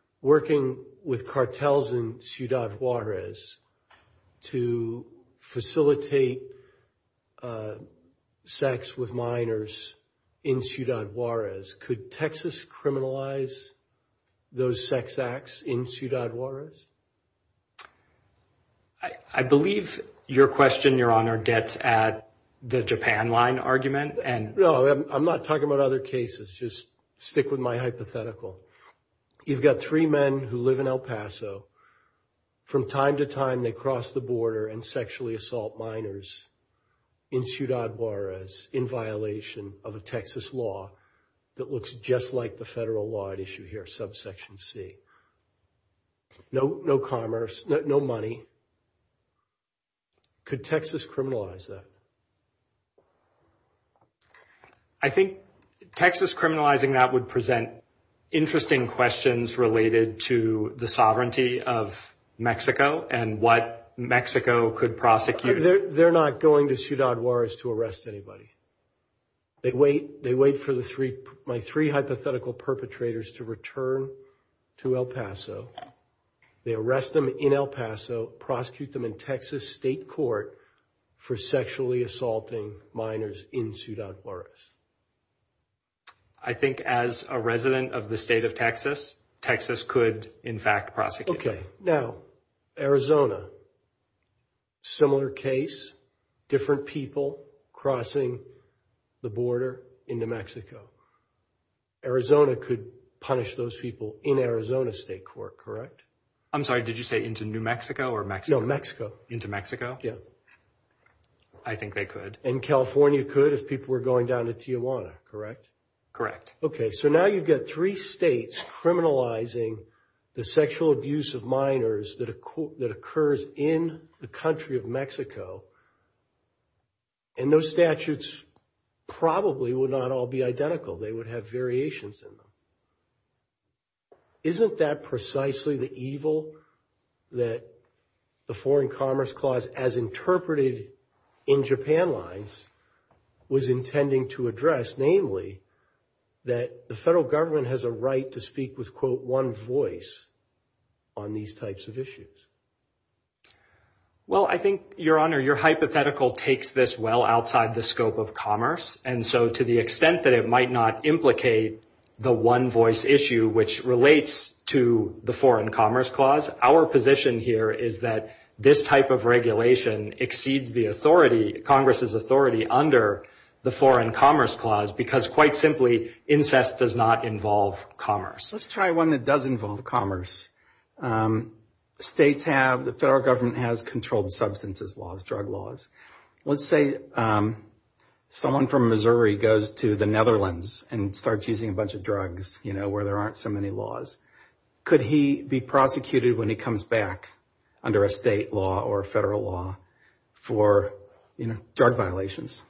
v. Al-Maliki v. Clay v. Al-Maliki v. Al-Maliki v. Al-Maliki v. Al-Maliki v. Al-Maliki v. Al-Maliki v. Al-Maliki v. Al-Maliki v. Al-Maliki v. Al-Maliki v. Al-Maliki v. Al-Maliki v. Al-Maliki Could Texas criminalize that? I think Texas criminalizing that would present interesting questions related to the sovereignty of Mexico and what Mexico could prosecute. They're not going to Ciudad Juarez to arrest anybody. They wait for my three hypothetical perpetrators to return to El Paso. They arrest them in El Paso, prosecute them in Texas state court for sexually assaulting minors in Ciudad Juarez. I think as a resident of the state of Texas, Texas could, in fact, prosecute. Okay. Now, Arizona, similar case, different people crossing the border into Mexico. Arizona could punish those people in Arizona state court, correct? I'm sorry. Did you say into New Mexico or Mexico? No, Mexico. Into Mexico? Yeah. I think they could. And California could if people were going down to Tijuana, correct? Correct. Okay. So now you've got three states criminalizing the sexual abuse of minors that occurs in the country of Mexico, and those statutes probably would not all be identical. They would have variations in them. Isn't that precisely the evil that the Foreign Commerce Clause, as interpreted in Japan lines, was intending to address? Namely, that the federal government has a right to speak with, quote, one voice on these types of issues. Well, I think, Your Honor, your hypothetical takes this well outside the scope of commerce. And so to the extent that it might not implicate the one voice issue, which relates to the Foreign Commerce Clause, our position here is that this type of regulation exceeds the authority, Congress's authority under the Foreign Commerce Clause, because quite simply, incest does not involve commerce. Let's try one that does involve commerce. States have, the federal government has controlled substances laws, drug laws. Let's say someone from Missouri goes to the Netherlands and starts using a bunch of drugs, you know, where there aren't so many laws. Could he be prosecuted when he comes back under a state law or a federal law for drug violations?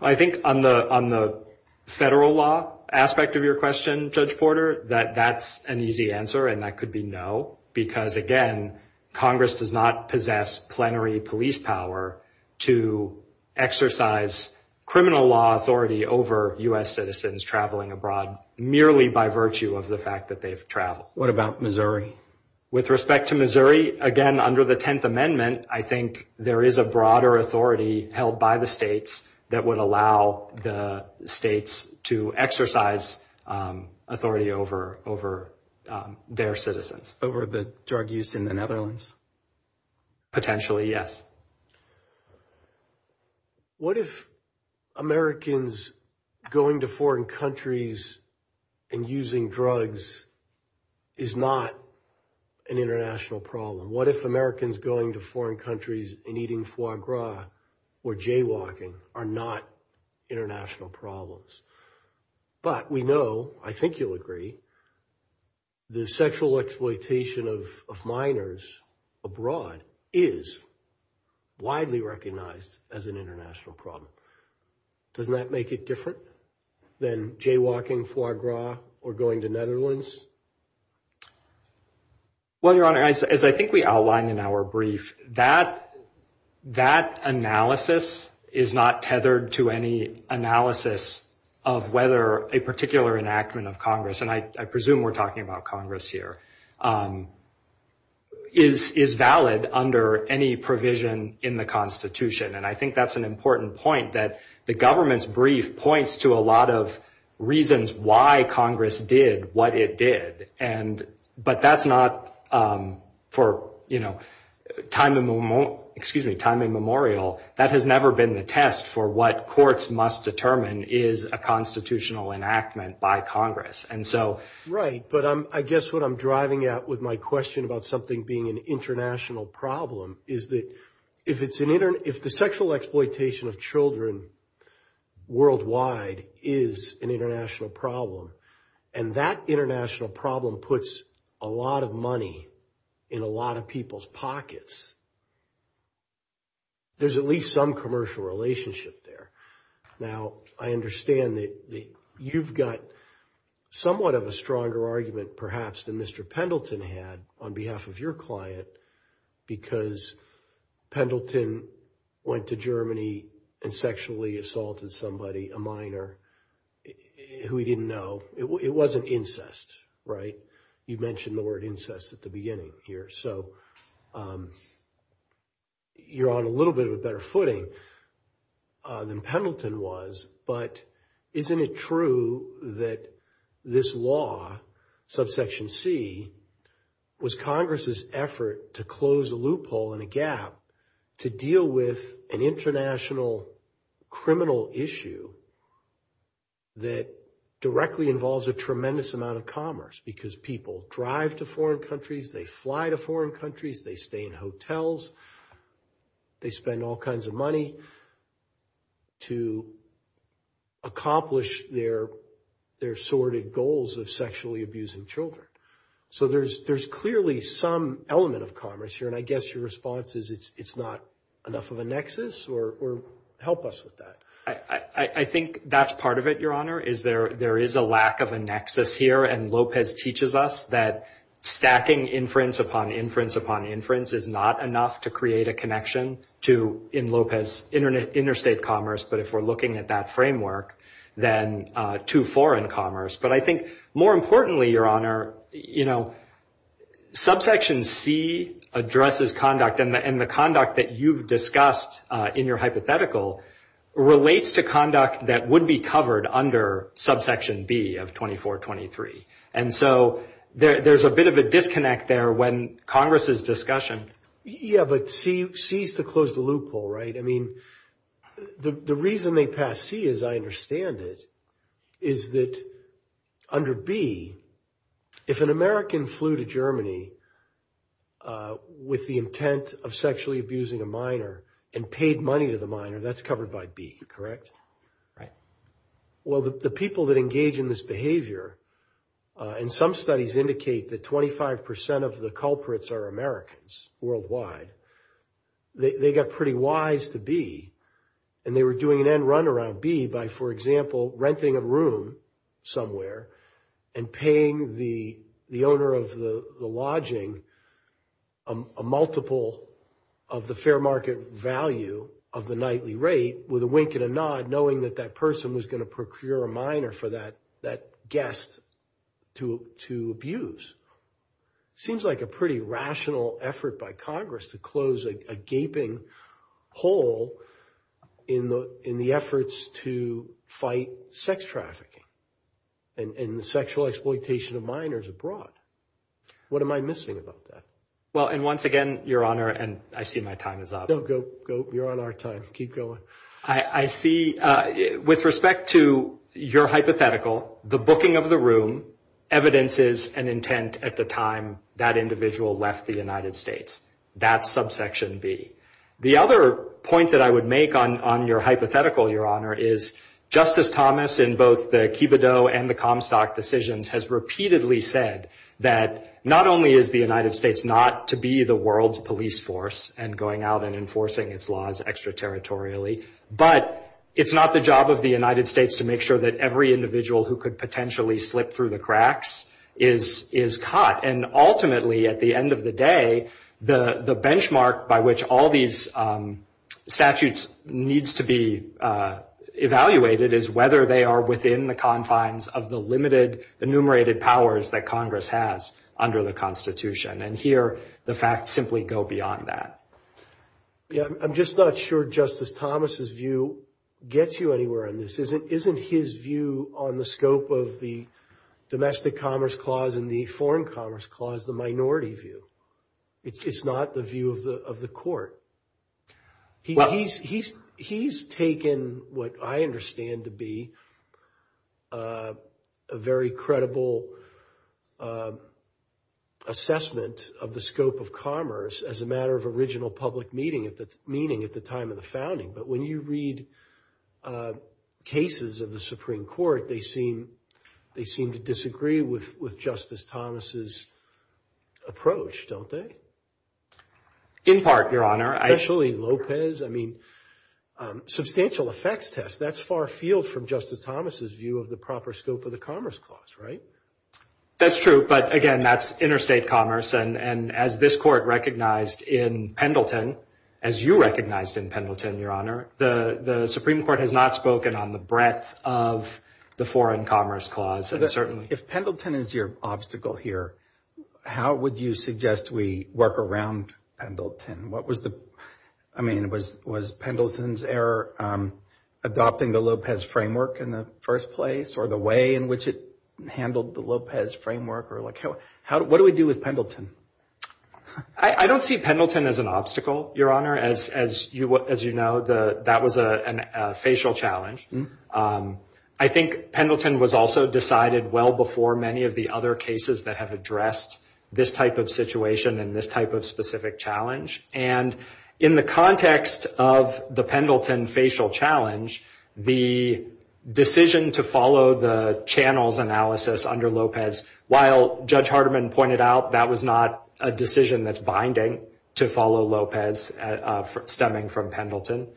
I think on the federal law aspect of your question, Judge Porter, that that's an easy answer, and that could be no, because again, Congress does not possess plenary police power to exercise criminal law authority over U.S. citizens traveling abroad merely by virtue of the fact that they've traveled. What about Missouri? With respect to Missouri, again, under the 10th Amendment, I think there is a broader authority held by the states that would allow the states to exercise authority over their citizens. Over the drug use in the Netherlands? Potentially, yes. What if Americans going to foreign countries and using drugs is not an international problem? What if Americans going to foreign countries and eating foie gras or jaywalking are not international problems? But we know, I think you'll agree, the sexual exploitation of minors abroad is widely recognized as an international problem. Doesn't that make it different than jaywalking, foie gras, or going to Netherlands? Well, Your Honor, as I think we outlined in our brief, that analysis is not tethered to any analysis of whether a particular enactment of Congress, and I presume we're talking about Congress here, is valid under any provision in the Constitution. And I think that's an important point, that the government's brief points to a lot of reasons why Congress did what it did. But that's not for time immemorial. That has never been the test for what courts must determine is a constitutional enactment by Congress. Right. But I guess what I'm driving at with my question about something being an international problem is that if the sexual exploitation of children worldwide is an international problem, and that international problem puts a lot of money in a lot of people's pockets, there's at least some commercial relationship there. Now, I understand that you've got somewhat of a stronger argument, perhaps, than Mr. Pendleton had on behalf of your client, because Pendleton went to Germany and sexually exploited children. It wasn't incest, right? You mentioned the word incest at the beginning here. So you're on a little bit of a better footing than Pendleton was. But isn't it true that this law, subsection C, was Congress's effort to close a loophole and a gap to deal with an international criminal issue that directly involves a tremendous amount of commerce? Because people drive to foreign countries. They fly to foreign countries. They stay in hotels. They spend all kinds of money to accomplish their assorted goals of sexually abusing children. So there's clearly some element of commerce here. And I guess your response is it's not enough of a nexus? Or help us with that. I think that's part of it, Your Honor, is there is a lack of a nexus here. And Lopez teaches us that stacking inference upon inference upon inference is not enough to create a connection to, in Lopez, interstate commerce. But if we're looking at that framework, then to foreign commerce. But I think, more importantly, Your Honor, subsection C addresses conduct. And the conduct that you've discussed in your hypothetical relates to conduct that would be covered under subsection B of 2423. And so there's a bit of a disconnect there when Congress is discussing. Yeah, but C is to close the loophole, right? I mean, the reason they pass C, as I understand it, is that under B, if an American flew to Germany with the intent of sexually abusing a minor and paid money to the minor, that's covered by B, correct? Right. Well, the people that engage in this behavior, and some studies indicate that 25 percent of the culprits are Americans worldwide, they got pretty wise to B. And they were doing an end run around B by, for example, renting a room somewhere and paying the owner of the lodging a multiple of the fair market value of the nightly rate with a wink and a nod, knowing that that person was going to procure a minor for that guest to abuse. Seems like a pretty rational effort by Congress to close a gaping hole in the efforts to fight sex trafficking and the sexual exploitation of minors abroad. What am I missing about that? Well, and once again, Your Honor, and I see my time is up. No, go, go. You're on our time. Keep going. I see with respect to your hypothetical, the booking of the room, evidence is an intent at the time that individual left the United States. That's subsection B. The other point that I would make on your hypothetical, Your Honor, is Justice Thomas in both the Kibidoh and the Comstock decisions has repeatedly said that not only is the United States not to be the world's police force and going out and enforcing its laws extraterritorially, but it's not the job of the United States to make sure that every individual who could potentially slip through the cracks is caught. And ultimately, at the end of the day, the benchmark by which all these statutes needs to be evaluated is whether they are within the confines of the limited enumerated powers that Congress has under the Constitution. And here, the facts simply go beyond that. Yeah, I'm just not sure Justice Thomas's view gets you anywhere on this. Isn't his view on the scope of the Domestic Commerce Clause and the Foreign Commerce Clause the minority view? It's not the view of the Court. He's taken what I understand to be a very credible assessment of the scope of commerce as a matter of original public meeting at the time of the founding. But when you read cases of the Supreme Court, they seem to disagree with Justice Thomas's approach, don't they? In part, Your Honor. Especially Lopez. I mean, substantial effects test, that's far afield from Justice Thomas's view of the proper scope of the Commerce Clause, right? That's true. But again, that's interstate commerce. And as this Court recognized in Pendleton, as you recognized in Pendleton, Your Honor, the Supreme Court has not spoken on the breadth of the Foreign Commerce Clause, certainly. If Pendleton is your obstacle here, how would you suggest we work around Pendleton? I mean, was Pendleton's error adopting the Lopez framework in the first place, or the way in which it handled the Lopez framework? What do we do with Pendleton? I don't see Pendleton as an obstacle, Your Honor. As you know, that was a facial challenge. I think Pendleton was also decided well before many of the other cases that have addressed this type of situation and this type of specific challenge. And in the context of the Pendleton facial challenge, the decision to follow the channels analysis under Lopez, while Judge Hardeman pointed out that was not a decision that's binding to follow Lopez stemming from Pendleton,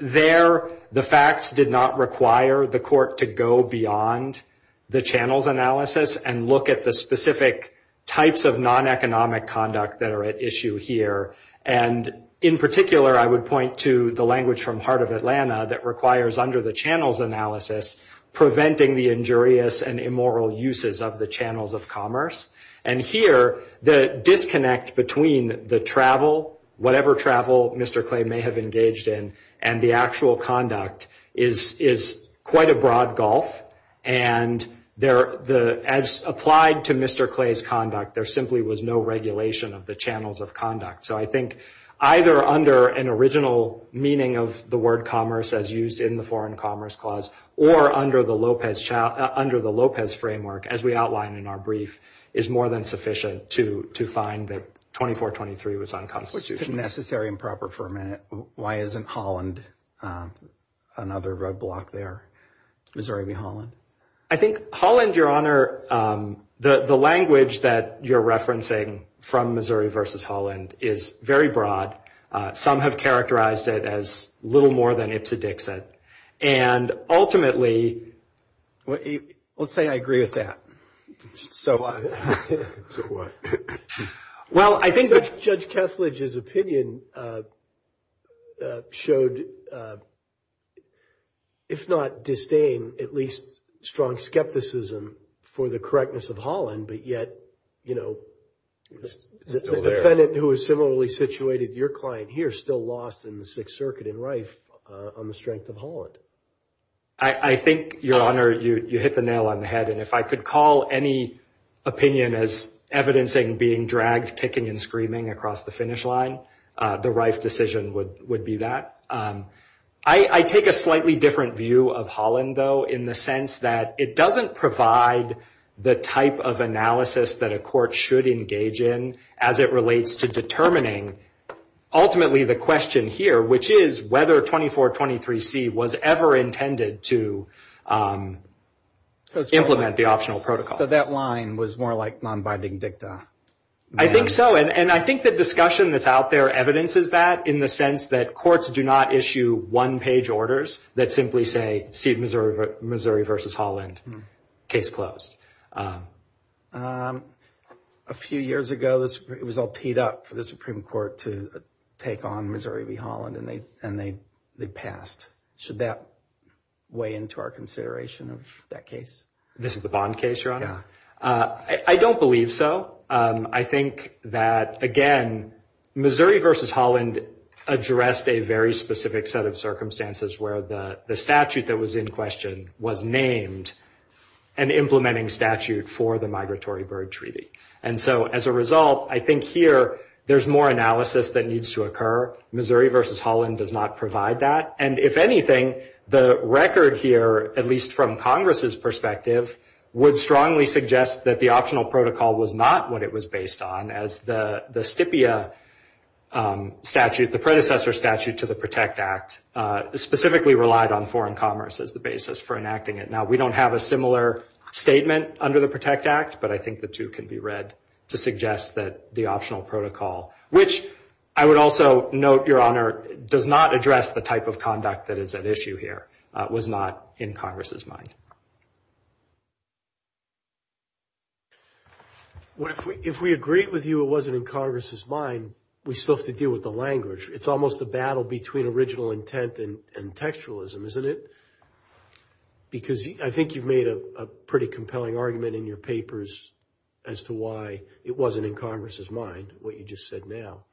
there the facts did not require the Court to go beyond the channels analysis and look at the specific types of non-economic conduct that are at issue here. And in particular, I would point to the language from Heart of Atlanta that requires under the channels analysis, preventing the injurious and immoral uses of the channels of commerce. And here, the disconnect between the travel, whatever travel Mr. Clay may have engaged in, and the actual conduct is quite a broad gulf. And as applied to Mr. Clay's conduct, there simply was no regulation of the channels of conduct. So I think either under an original meaning of the word commerce as used in the foreign commerce clause, or under the Lopez framework, as we outlined in our brief, is more than sufficient to find that 2423 was unconstitutional. Necessary and proper for a minute. Why isn't Holland another roadblock there? Missouri v. Holland. I think Holland, Your Honor, the language that you're referencing from Missouri versus Holland is very broad. Some have characterized it as little more than Ipsi Dixit. And ultimately, let's say I agree with that. So what? Well, I think Judge Kesslidge's opinion showed, if not disdain, at least strong skepticism for the correctness of Holland. But yet, the defendant who is similarly situated, your client here, still lost in the Sixth Circuit in Rife on the strength of Holland. I think, Your Honor, you hit the nail on the head. And if I could call any opinion as evidencing being dragged, kicking, and screaming across the finish line, the Rife decision would be that. I take a slightly different view of Holland, though, in the sense that it doesn't provide the type of analysis that a court should engage in as it relates to determining, ultimately, the question here, which is whether 2423C was ever intended to implement the optional protocol. That line was more like non-binding dicta. I think so. And I think the discussion that's out there evidences that in the sense that courts do not issue one-page orders that simply say, see Missouri v. Holland, case closed. A few years ago, it was all teed up for the Supreme Court to take on Missouri v. Holland, and they passed. Should that weigh into our consideration of that case? This is the Bond case, Your Honor? Yeah. I don't believe so. I think that, again, Missouri v. Holland addressed a very specific set of circumstances where the statute that was in question was for the Migratory Bird Treaty. And so as a result, I think here there's more analysis that needs to occur. Missouri v. Holland does not provide that. And if anything, the record here, at least from Congress's perspective, would strongly suggest that the optional protocol was not what it was based on as the STPIA statute, the predecessor statute to the PROTECT Act, specifically relied on foreign commerce as the basis for enacting it. Now, we don't have a similar statement under the PROTECT Act, but I think the two can be read to suggest that the optional protocol, which I would also note, Your Honor, does not address the type of conduct that is at issue here, was not in Congress's mind. If we agreed with you it wasn't in Congress's mind, we still have to deal with the language. It's almost a battle between original intent and textualism, isn't it? Because I think you've made a pretty compelling argument in your papers as to why it wasn't in Congress's mind, what you just said now.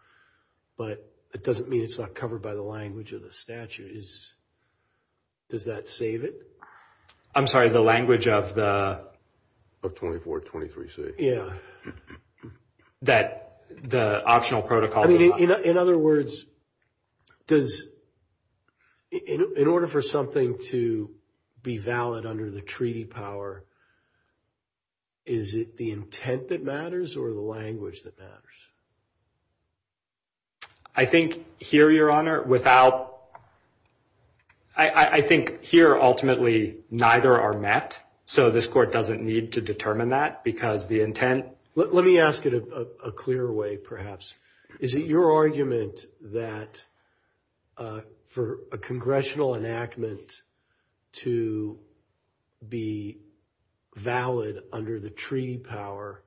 But it doesn't mean it's not covered by the language of the statute. Does that save it? I'm sorry, the language of the 2423C? Yeah. That the optional protocol was not- In other words, does- in order for something to be valid under the treaty power, is it the intent that matters or the language that matters? I think here, Your Honor, without- I think here, ultimately, neither are met. So this Court doesn't need to determine that because the intent- let me ask it a clearer way, perhaps. Is it your argument that for a congressional enactment to be valid under the treaty power,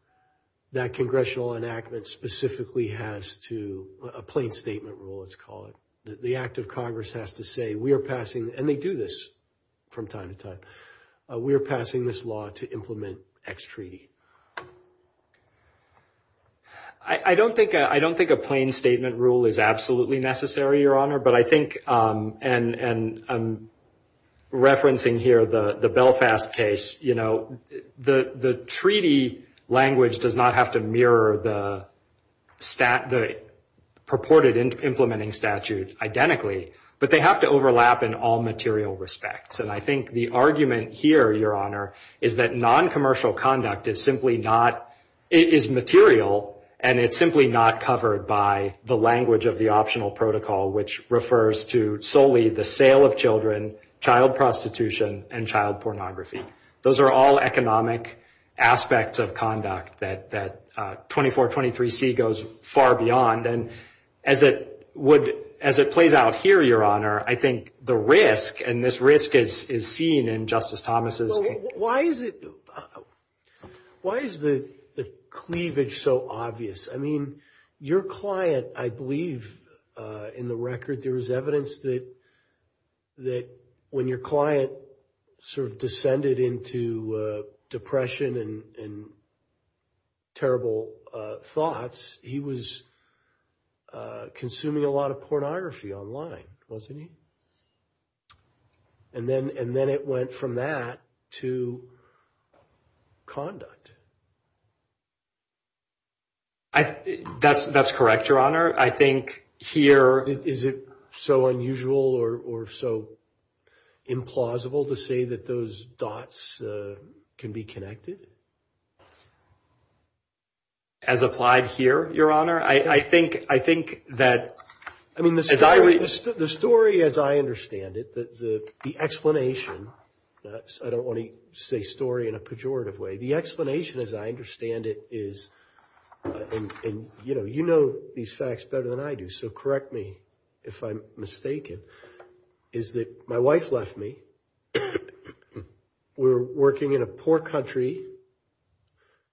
that congressional enactment specifically has to- a plain statement rule, let's call it- the act of Congress has to say, we are passing- and they do this from time to time- we are passing this law to implement X treaty? I don't think a plain statement rule is absolutely necessary, Your Honor. But I think- and I'm referencing here the Belfast case- the treaty language does not have to mirror the purported implementing statutes identically, but they have to overlap in all material respects. And I think the argument here, Your Honor, is that noncommercial conduct is simply not- is material, and it's simply not covered by the language of the optional protocol, which refers to solely the sale of children, child prostitution, and child pornography. Those are all economic aspects of conduct that 2423C goes far beyond. And as it would- as it plays out here, Your Honor, I think the risk- and this risk is seen in Justice Thomas's- Why is it- why is the cleavage so obvious? I mean, your client, I believe, in the record, there was evidence that when your client sort of descended into depression and terrible thoughts, he was consuming a lot of pornography online, wasn't he? And then it went from that to conduct. I- that's correct, Your Honor. I think here, is it so unusual or so implausible to say that those dots can be connected? As applied here, Your Honor, I think that- the explanation- I don't want to say story in a pejorative way. The explanation, as I understand it, is- and you know these facts better than I do, so correct me if I'm mistaken- is that my wife left me. We were working in a poor country,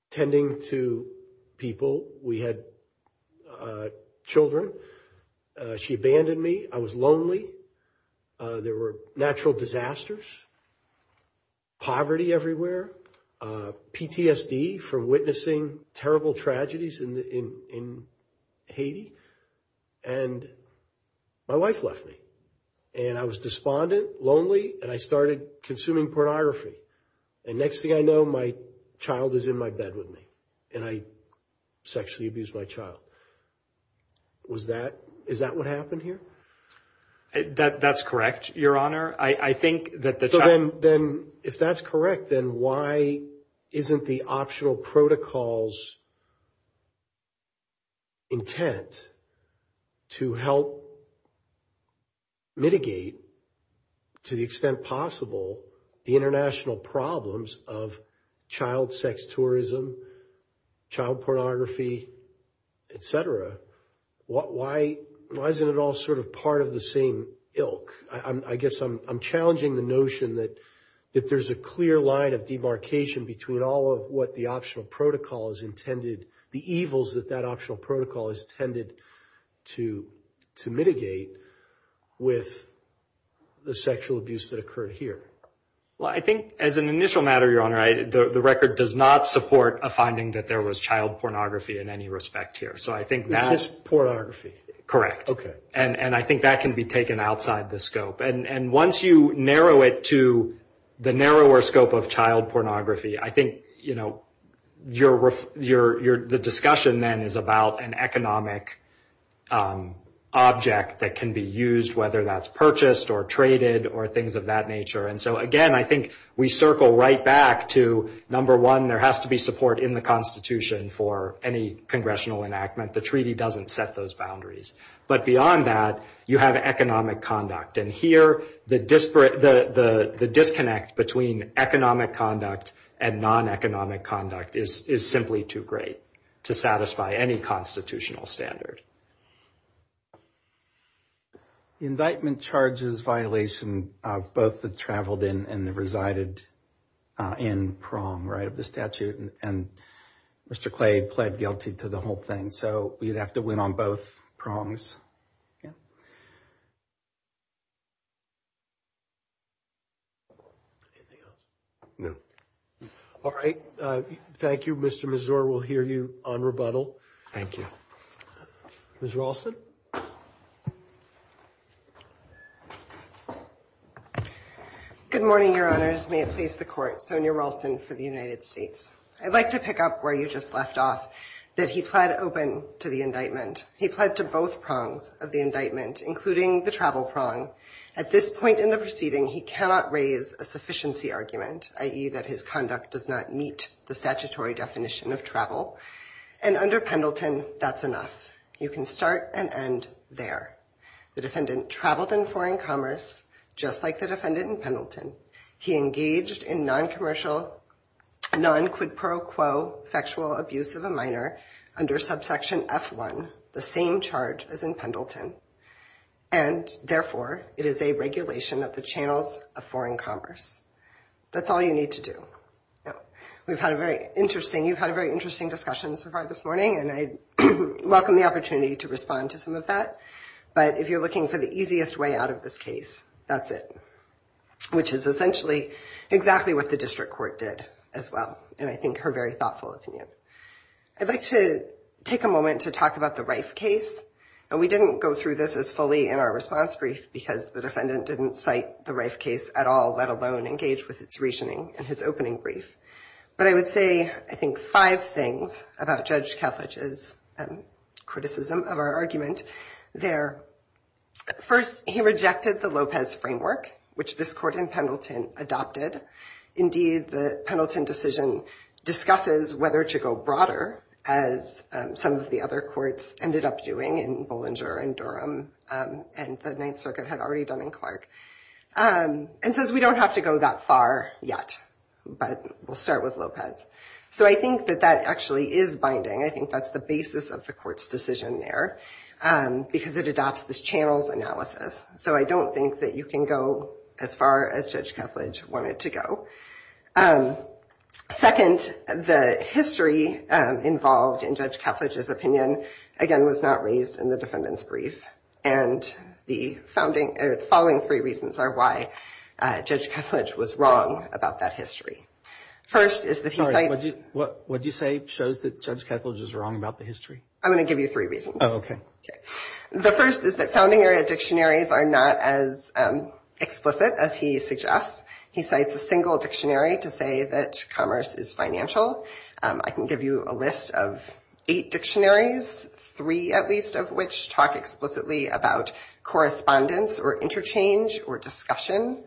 tending to people. We had children. She abandoned me. I was lonely. There were natural disasters, poverty everywhere, PTSD from witnessing terrible tragedies in Haiti, and my wife left me. And I was despondent, lonely, and I started consuming pornography. And next thing I know, my child is in my bed with me, and I sexually abused my child. Was that- is that what happened here? I- that- that's correct, Your Honor. I- I think that the- So then- then if that's correct, then why isn't the optional protocols intent to help mitigate, to the extent possible, the international problems of child sex tourism, child pornography, et cetera? What- why- why isn't it all sort of part of the same ilk? I- I guess I'm- I'm challenging the notion that- that there's a clear line of debarkation between all of what the optional protocol is intended- the evils that that optional protocol is intended to- to mitigate with the sexual abuse that occurred here. Well, I think, as an initial matter, Your Honor, I- the- the record does not support a finding that there was child pornography in any respect here. So I think now- Just pornography. Correct. Okay. And- and I think that can be taken outside the scope. And- and once you narrow it to the narrower scope of child pornography, I think, you know, you're- you're- you're- the discussion then is about an economic object that can be used, whether that's purchased or traded or things of that nature. And so, again, I think we circle right back to, number one, there has to be support in the Constitution for any congressional enactment. The treaty doesn't set those boundaries. But beyond that, you have economic conduct. And here, the disparate- the- the- the disconnect between economic conduct and non-economic conduct is- is simply too great to satisfy any constitutional standard. The indictment charges violation of both the traveled in and the resided in prong, right, of the statute. And Mr. Clay pled guilty to the whole thing. So we'd have to win on both prongs. Yeah. All right. Thank you, Mr. Mazur. We'll hear you on rebuttal. Thank you. Ms. Raulston? Good morning, Your Honors. May it please the Court, Sonia Raulston for the United States. I'd like to pick up where you just left off, that he pled open to the indictment. He pled to both prongs of the indictment, including the travel prong. At this point in the proceeding, he cannot raise a sufficiency argument, i.e. that his conduct does not meet the statutory definition of travel. And under Pendleton, that's enough. You can start and end there. The defendant traveled in foreign commerce, just like the defendant in Pendleton. He engaged in non-commercial, non-quid pro quo sexual abuse of a minor under subsection F1, the same charge as in Pendleton. And therefore, it is a regulation of the channels of foreign commerce. That's all you need to do. We've had a very interesting, you've had a very interesting discussion so far this morning, and I welcome the opportunity to respond to some of that. But if you're looking for the easiest way out of this case, that's it, which is essentially exactly what the district court did as well, and I think her very thoughtful opinion. I'd like to take a moment to talk about the Rice case. And we didn't go through this as fully in our response brief, because the defendant didn't cite the Rice case at all, let alone engage with its reasoning in his opening brief. But I would say, I think, five things about Judge Kalfich's criticism of our argument there. First, he rejected the Lopez framework, which this court in Pendleton adopted. Indeed, the Pendleton decision discusses whether to go broader, as some of the other courts ended up doing in Bollinger and Durham, and the Ninth Circuit had already done in Clark. And so we don't have to go that far yet, but we'll start with Lopez. So I think that that actually is binding. I think that's the basis of the court's decision there, because it adopts this channels analysis. So I don't think that you can go as far as Judge Kalfich wanted to go. Second, the history involved in Judge Kalfich's opinion, again, was not raised in the defendant's brief. And the following three reasons are why Judge Kalfich was wrong about that history. First, is that he cites- Sorry, what did you say shows that Judge Kalfich is wrong about the history? I'm going to give you three reasons. Oh, okay. The first is that founding area dictionaries are not as explicit as he suggests. He cites a single dictionary to say that commerce is financial. I can give you a list of eight dictionaries, three at least of which talk explicitly about correspondence or interchange or discussion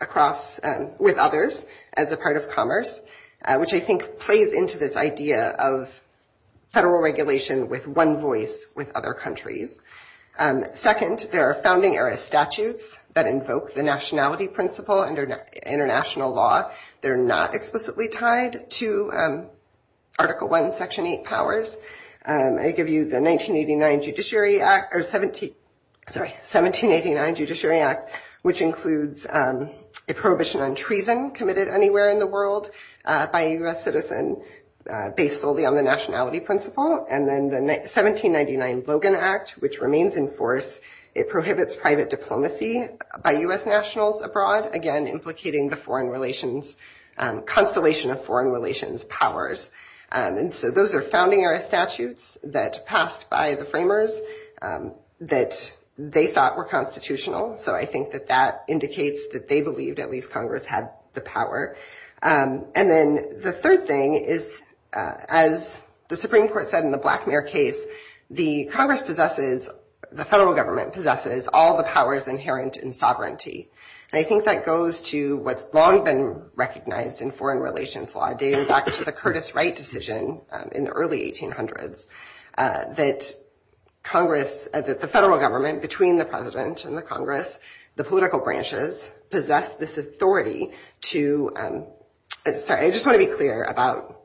across with others as a part of commerce, which I think plays into this idea of federal regulation with one voice with other countries. Second, there are founding era statutes that invoke the nationality principle under international law. They're not explicitly tied to Article 1, Section 8 powers. I give you the 1789 Judiciary Act, which includes a prohibition on treason committed anywhere in the world by a U.S. citizen based solely on the nationality principle. And then the 1799 Logan Act, which remains in force. It prohibits private diplomacy by U.S. nationals abroad, again, implicating the foreign relations constellation of foreign relations powers. And so those are founding era statutes that passed by the framers that they thought were constitutional. So I think that that indicates that they believed at least Congress had the power. And then the third thing is, as the Supreme Court said in the Blackmare case, I think that goes to what's long been recognized in foreign relations law, dating back to the Curtis Wright decision in the early 1800s, that Congress, as it's a federal government between the president and the Congress, the political branches, possess this authority to... Sorry, I just want to be clear about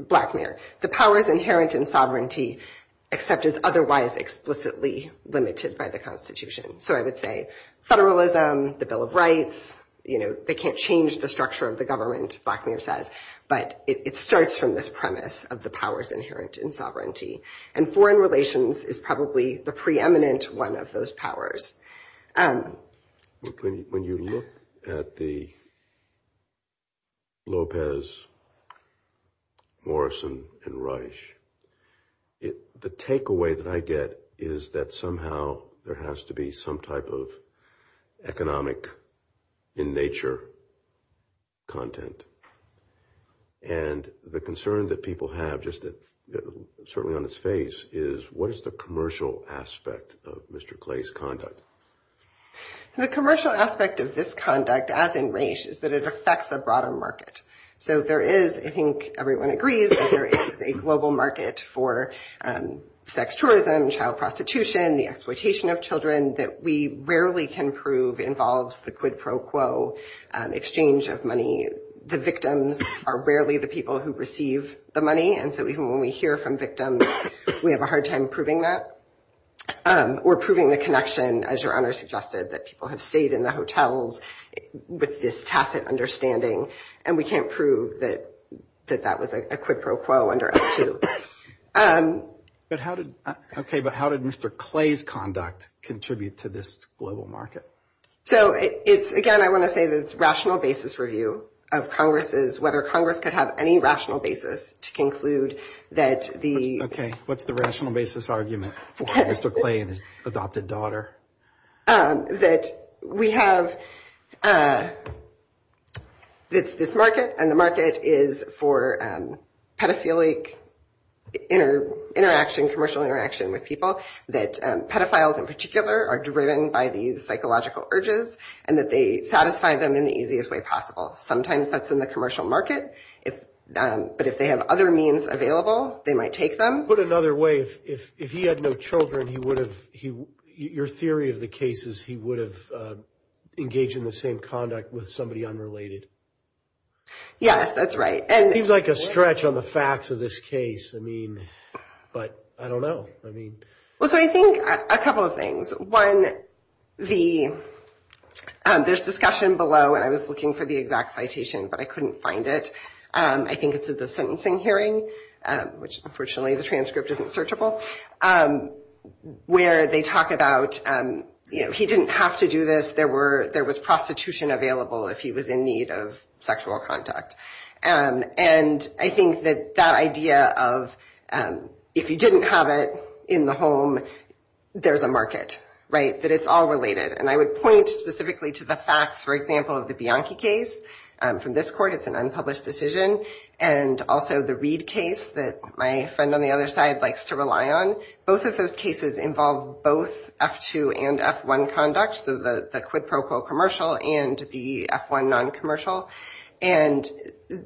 Blackmare. The power is inherent in sovereignty, except it's otherwise explicitly limited by the Constitution. So I would say federalism, the Bill of Rights, they can't change the structure of the government, Blackmare says, but it starts from this premise of the powers inherent in sovereignty. And foreign relations is probably the preeminent one of those powers. When you look at the Lopez, Morrison, and Reich, the takeaway that I get is that somehow there has to be some type of economic in nature content. And the concern that people have, just certainly on its face, is what is the commercial aspect of Mr. Clay's conduct? The commercial aspect of this conduct, as in Reich, is that it affects the broader market. So there is, I think everyone agrees, there is a global market for sex tourism, child prostitution, the exploitation of children that we rarely can prove involves the quid pro quo exchange of money. The victims are rarely the people who receive the money. And so even when we hear from victims, we have a hard time proving that, or proving the connection, as your honor suggested, that people have stayed in the hotels with this tacit understanding. And we can't prove that that was a quid pro quo under it too. But how did Mr. Clay's conduct contribute to this global market? So again, I want to say this rational basis review of Congress's, whether Congress could have any rational basis to conclude that the... Okay, what's the rational basis argument for Mr. Clay's adopted daughter? That we have this market, and the market is for pedophilic interaction, commercial interaction with people, that pedophiles in particular are driven by these psychological urges, and that they satisfy them in the easiest way possible. Sometimes that's in the commercial market, but if they have other means available, they might take them. Put another way, if he had no children, he would have, your theory of the case is, he would have engaged in the same conduct with somebody unrelated. Yes, that's right. Seems like a stretch on the facts of this case. But I don't know. Well, so I think a couple of things. One, this discussion below, and I was looking for the exact citation, but I couldn't find it. I think it's at the sentencing hearing, which unfortunately the transcript isn't searchable. Where they talk about, you know, he didn't have to do this. There was prostitution available if he was in need of sexual contact. And I think that that idea of, if you didn't have it in the home, there's a market, right? That it's all related. And I would point specifically to the facts, for example, of the Bianchi case. From this court, it's an unpublished decision. And also the Reid case that my friend on the other side likes to rely on. Both of those cases involve both F2 and F1 conduct. So the quid pro quo commercial and the F1 non-commercial. And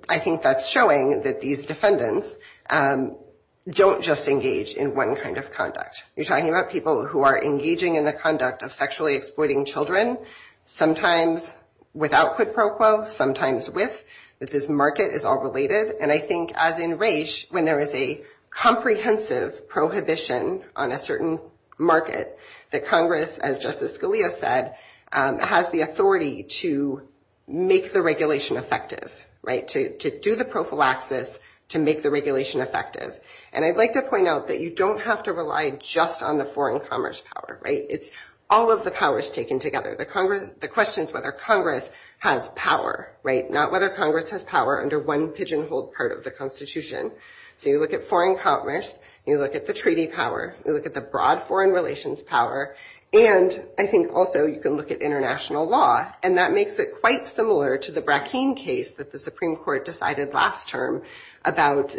I think that's showing that these defendants don't just engage in one kind of conduct. You're talking about people who are engaging in the conduct of sexually exploiting children. Sometimes without quid pro quo. Sometimes with. That this market is all related. And I think as in Raich, when there is a comprehensive prohibition on a certain market, that Congress, as Justice Scalia said, has the authority to make the regulation effective, right? To do the prophylaxis to make the regulation effective. And I'd like to point out that you don't have to rely just on the foreign commerce power, right? It's all of the powers taken together. The question is whether Congress has power, right? Whether Congress has power under one pigeonhole part of the Constitution. So you look at foreign commerce. You look at the treaty power. You look at the broad foreign relations power. And I think also you can look at international law. And that makes it quite similar to the Bracken case that the Supreme Court decided last term about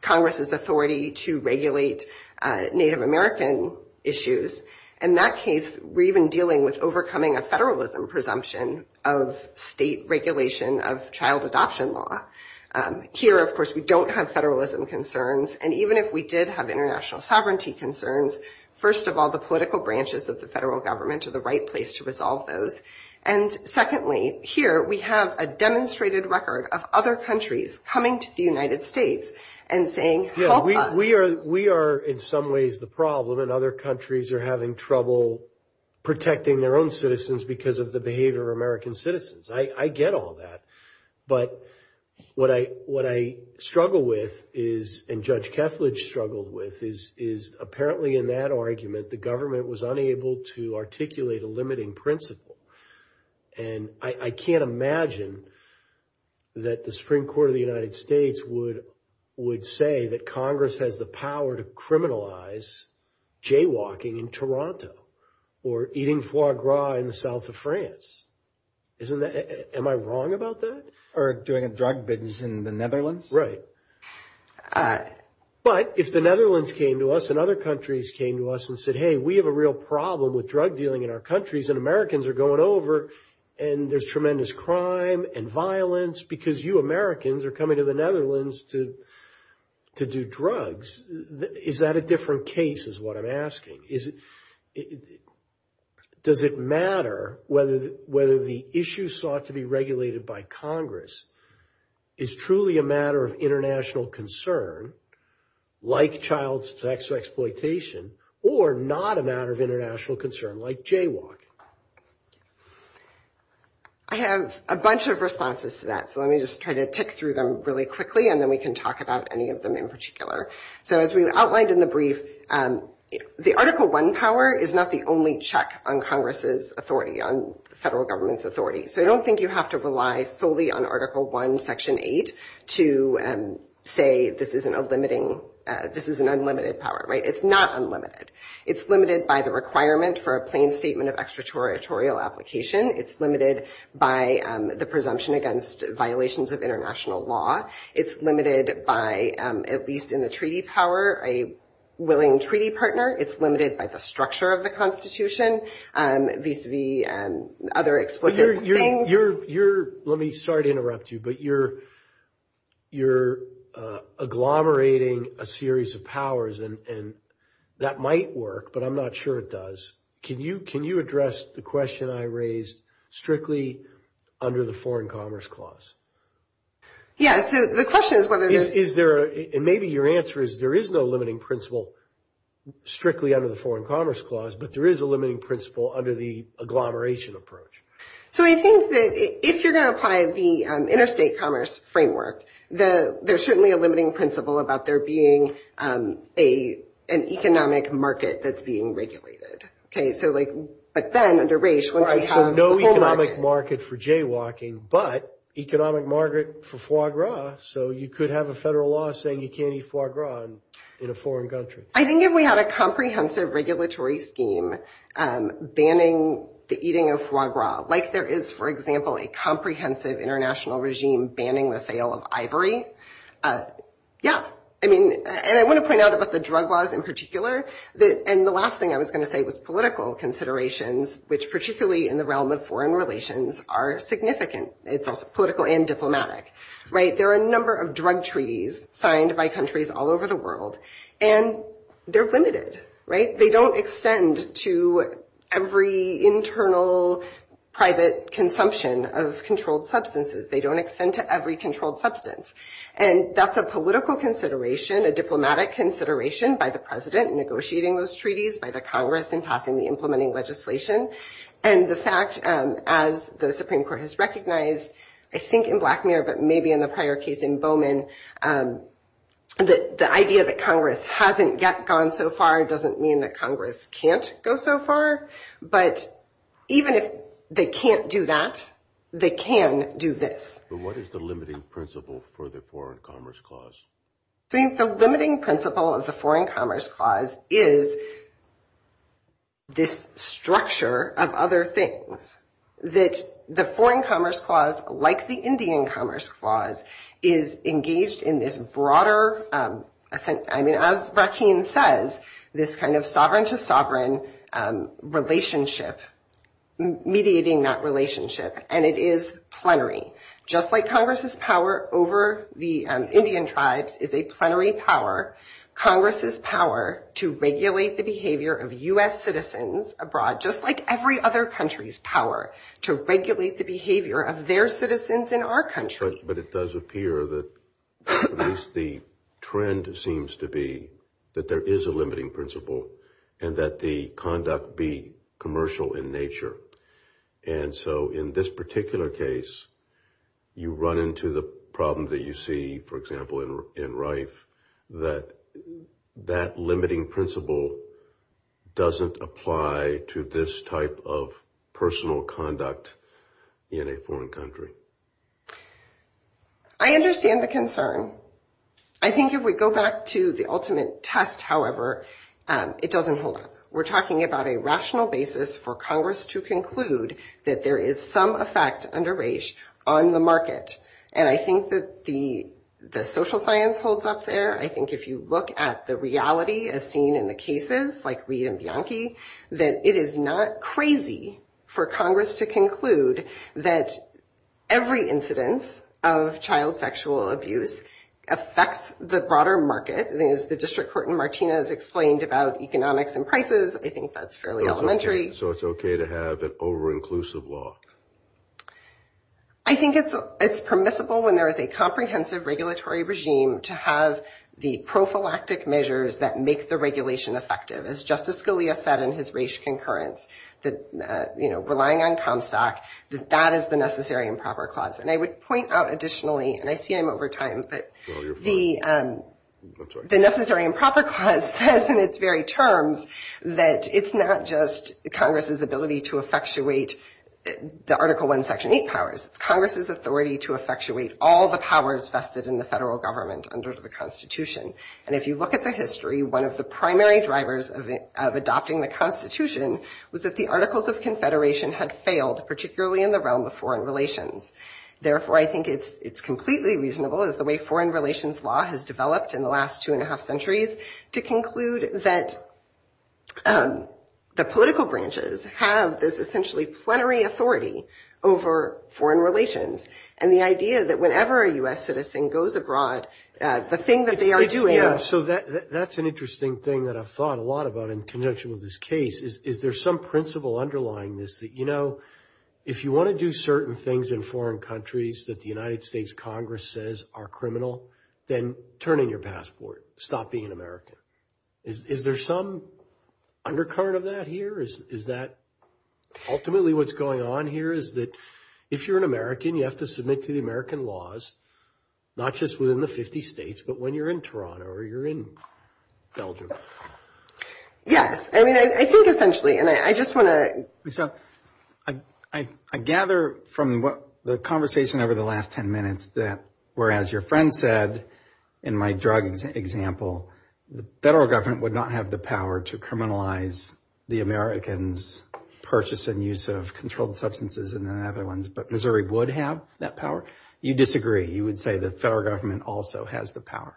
Congress's authority to regulate Native American issues. In that case, we're even dealing with overcoming a federalism presumption of state regulation of child adoption law. Here, of course, we don't have federalism concerns. And even if we did have international sovereignty concerns, first of all, the political branches of the federal government are the right place to resolve those. And secondly, here we have a demonstrated record of other countries coming to the United States and saying, help us. Yeah, we are in some ways the problem. And other countries are having trouble protecting their own citizens because of the behavior of American citizens. I get all that. But what I struggle with is, and Judge Keflage struggled with, is apparently in that argument, the government was unable to articulate a limiting principle. And I can't imagine that the Supreme Court of the United States would say that Congress has the power to criminalize jaywalking in Toronto or eating foie gras in the south of France. Isn't that – am I wrong about that? Or doing a drug business in the Netherlands? Right. But if the Netherlands came to us and other countries came to us and said, hey, we have a real problem with drug dealing in our countries and Americans are going over and there's tremendous crime and violence because you Americans are coming to the Netherlands to do drugs, is that a different case is what I'm asking? Is it – does it matter whether the issue sought to be regulated by Congress is truly a matter of international concern, like child sex exploitation, or not a matter of international concern, like jaywalking? I have a bunch of responses to that. So let me just try to tick through them really quickly and then we can talk about any of them in particular. So as we outlined in the brief, the Article 1 power is not the only check on Congress's authority, on federal government's authority. So I don't think you have to rely solely on Article 1, Section 8, to say this isn't a limiting – this is an unlimited power, right? It's not unlimited. It's limited by the requirement for a plain statement of extraterritorial application. It's limited by the presumption against violations of international law. It's limited by, at least in the treaty power, a willing treaty partner. It's limited by the structure of the Constitution, vis-a-vis other explicit things. You're – let me – sorry to interrupt you, but you're agglomerating a series of powers, and that might work, but I'm not sure it does. Can you address the question I raised strictly under the Foreign Commerce Clause? Yeah, so the question is whether there's – Is there – and maybe your answer is there is no limiting principle strictly under the Foreign Commerce Clause, but there is a limiting principle under the agglomeration approach. So I think that if you're going to apply the Interstate Commerce Framework, there's certainly a limiting principle about there being an economic market that's being regulated, okay? So like – but then under RAJD, once we have the whole market – There's an economic market for foie gras, so you could have a federal law saying you can't eat foie gras in a foreign country. I think if we had a comprehensive regulatory scheme banning the eating of foie gras, like there is, for example, a comprehensive international regime banning the sale of ivory – yeah. I mean – and I want to point out about the drug laws in particular, and the last thing I was going to say was political considerations, which particularly in the realm of foreign relations are significant. It's both political and diplomatic, right? There are a number of drug treaties signed by countries all over the world, and they're limited, right? They don't extend to every internal private consumption of controlled substances. They don't extend to every controlled substance. And that's a political consideration, a diplomatic consideration by the President negotiating those treaties, by the Congress in talking the implementing legislation. And the fact, as the Supreme Court has recognized, I think in Black Mirror, but maybe in the prior case in Bowman, the idea that Congress hasn't gone so far doesn't mean that Congress can't go so far. But even if they can't do that, they can do this. But what is the limiting principle for the Foreign Commerce Clause? I think the limiting principle of the Foreign Commerce Clause is this structure of other things. That the Foreign Commerce Clause, like the Indian Commerce Clause, is engaged in this broader – I mean, as Rakeen says, this kind of sovereign-to-sovereign relationship, mediating that relationship, and it is plenary. Just like Congress's power over the Indian tribes is a plenary power, Congress's power to regulate the behavior of U.S. citizens abroad, just like every other country's power, to regulate the behavior of their citizens in our country. But it does appear that at least the trend seems to be that there is a limiting principle and that the conduct be commercial in nature. And so in this particular case, you run into the problem that you see, for example, in Rife, that that limiting principle doesn't apply to this type of personal conduct in a foreign country. I understand the concern. I think if we go back to the ultimate test, however, it doesn't hold up. We're talking about a rational basis for Congress to conclude that there is some effect under race on the market. And I think that the social science holds up there. I think if you look at the reality as seen in the cases, like Reid and Bianchi, that it is not crazy for Congress to conclude that every incidence of child sexual abuse affects the broader market. The District Court in Martinez explained about economics and prices. I think that's fairly elementary. So it's okay to have an over-inclusive law? I think it's permissible when there is a comprehensive regulatory regime to have the prophylactic measures that make the regulation effective. As Justice Scalia said in his race concurrence, that relying on Comstock, that is the necessary and proper clause. And I would point out additionally, and I see him over time, but the... The necessary and proper clause says in its very terms that it's not just Congress's ability to effectuate the Article I, Section 8 powers. It's Congress's authority to effectuate all the powers vested in the federal government under the Constitution. And if you look at the history, one of the primary drivers of adopting the Constitution was that the Articles of Confederation had failed, particularly in the realm of foreign relations. Therefore, I think it's completely reasonable, as the way foreign relations law has developed in the last two and a half centuries, to conclude that the political branches have this essentially plenary authority over foreign relations. And the idea that whenever a U.S. citizen goes abroad, the thing that they are doing... Yeah, so that's an interesting thing that I've thought a lot about in conjunction with this case, is there's some principle underlying this that, you know, if you want to do certain things in foreign countries that the United States Congress says are criminal, then turn in your passport. Stop being American. Is there some undercurrent of that here? Is that ultimately what's going on here, is that if you're an American, you have to submit to the American laws, not just within the 50 states, but when you're in Toronto or you're in Belgium. Yes, I mean, I think essentially, and I just want to... I gather from the conversation over the last 10 minutes that, whereas your friend said, in my drug example, the federal government would not have the power to criminalize the Americans' purchase and use of controlled substances and other ones, but Missouri would have that power. You disagree. You would say the federal government also has the power.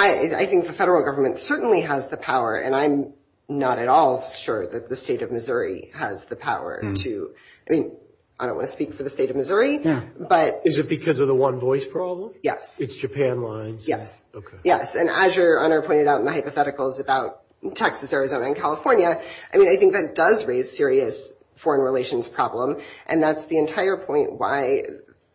I think the federal government certainly has the power, and I'm not at all sure that the state of Missouri has the power to... I mean, I don't want to speak for the state of Missouri, but... Is it because of the one voice problem? Yes. It's Japan lines. Yes, yes. And as your honor pointed out in the hypotheticals about Texas, Arizona, and California, I mean, I think that does raise serious foreign relations problem, and that's the entire point why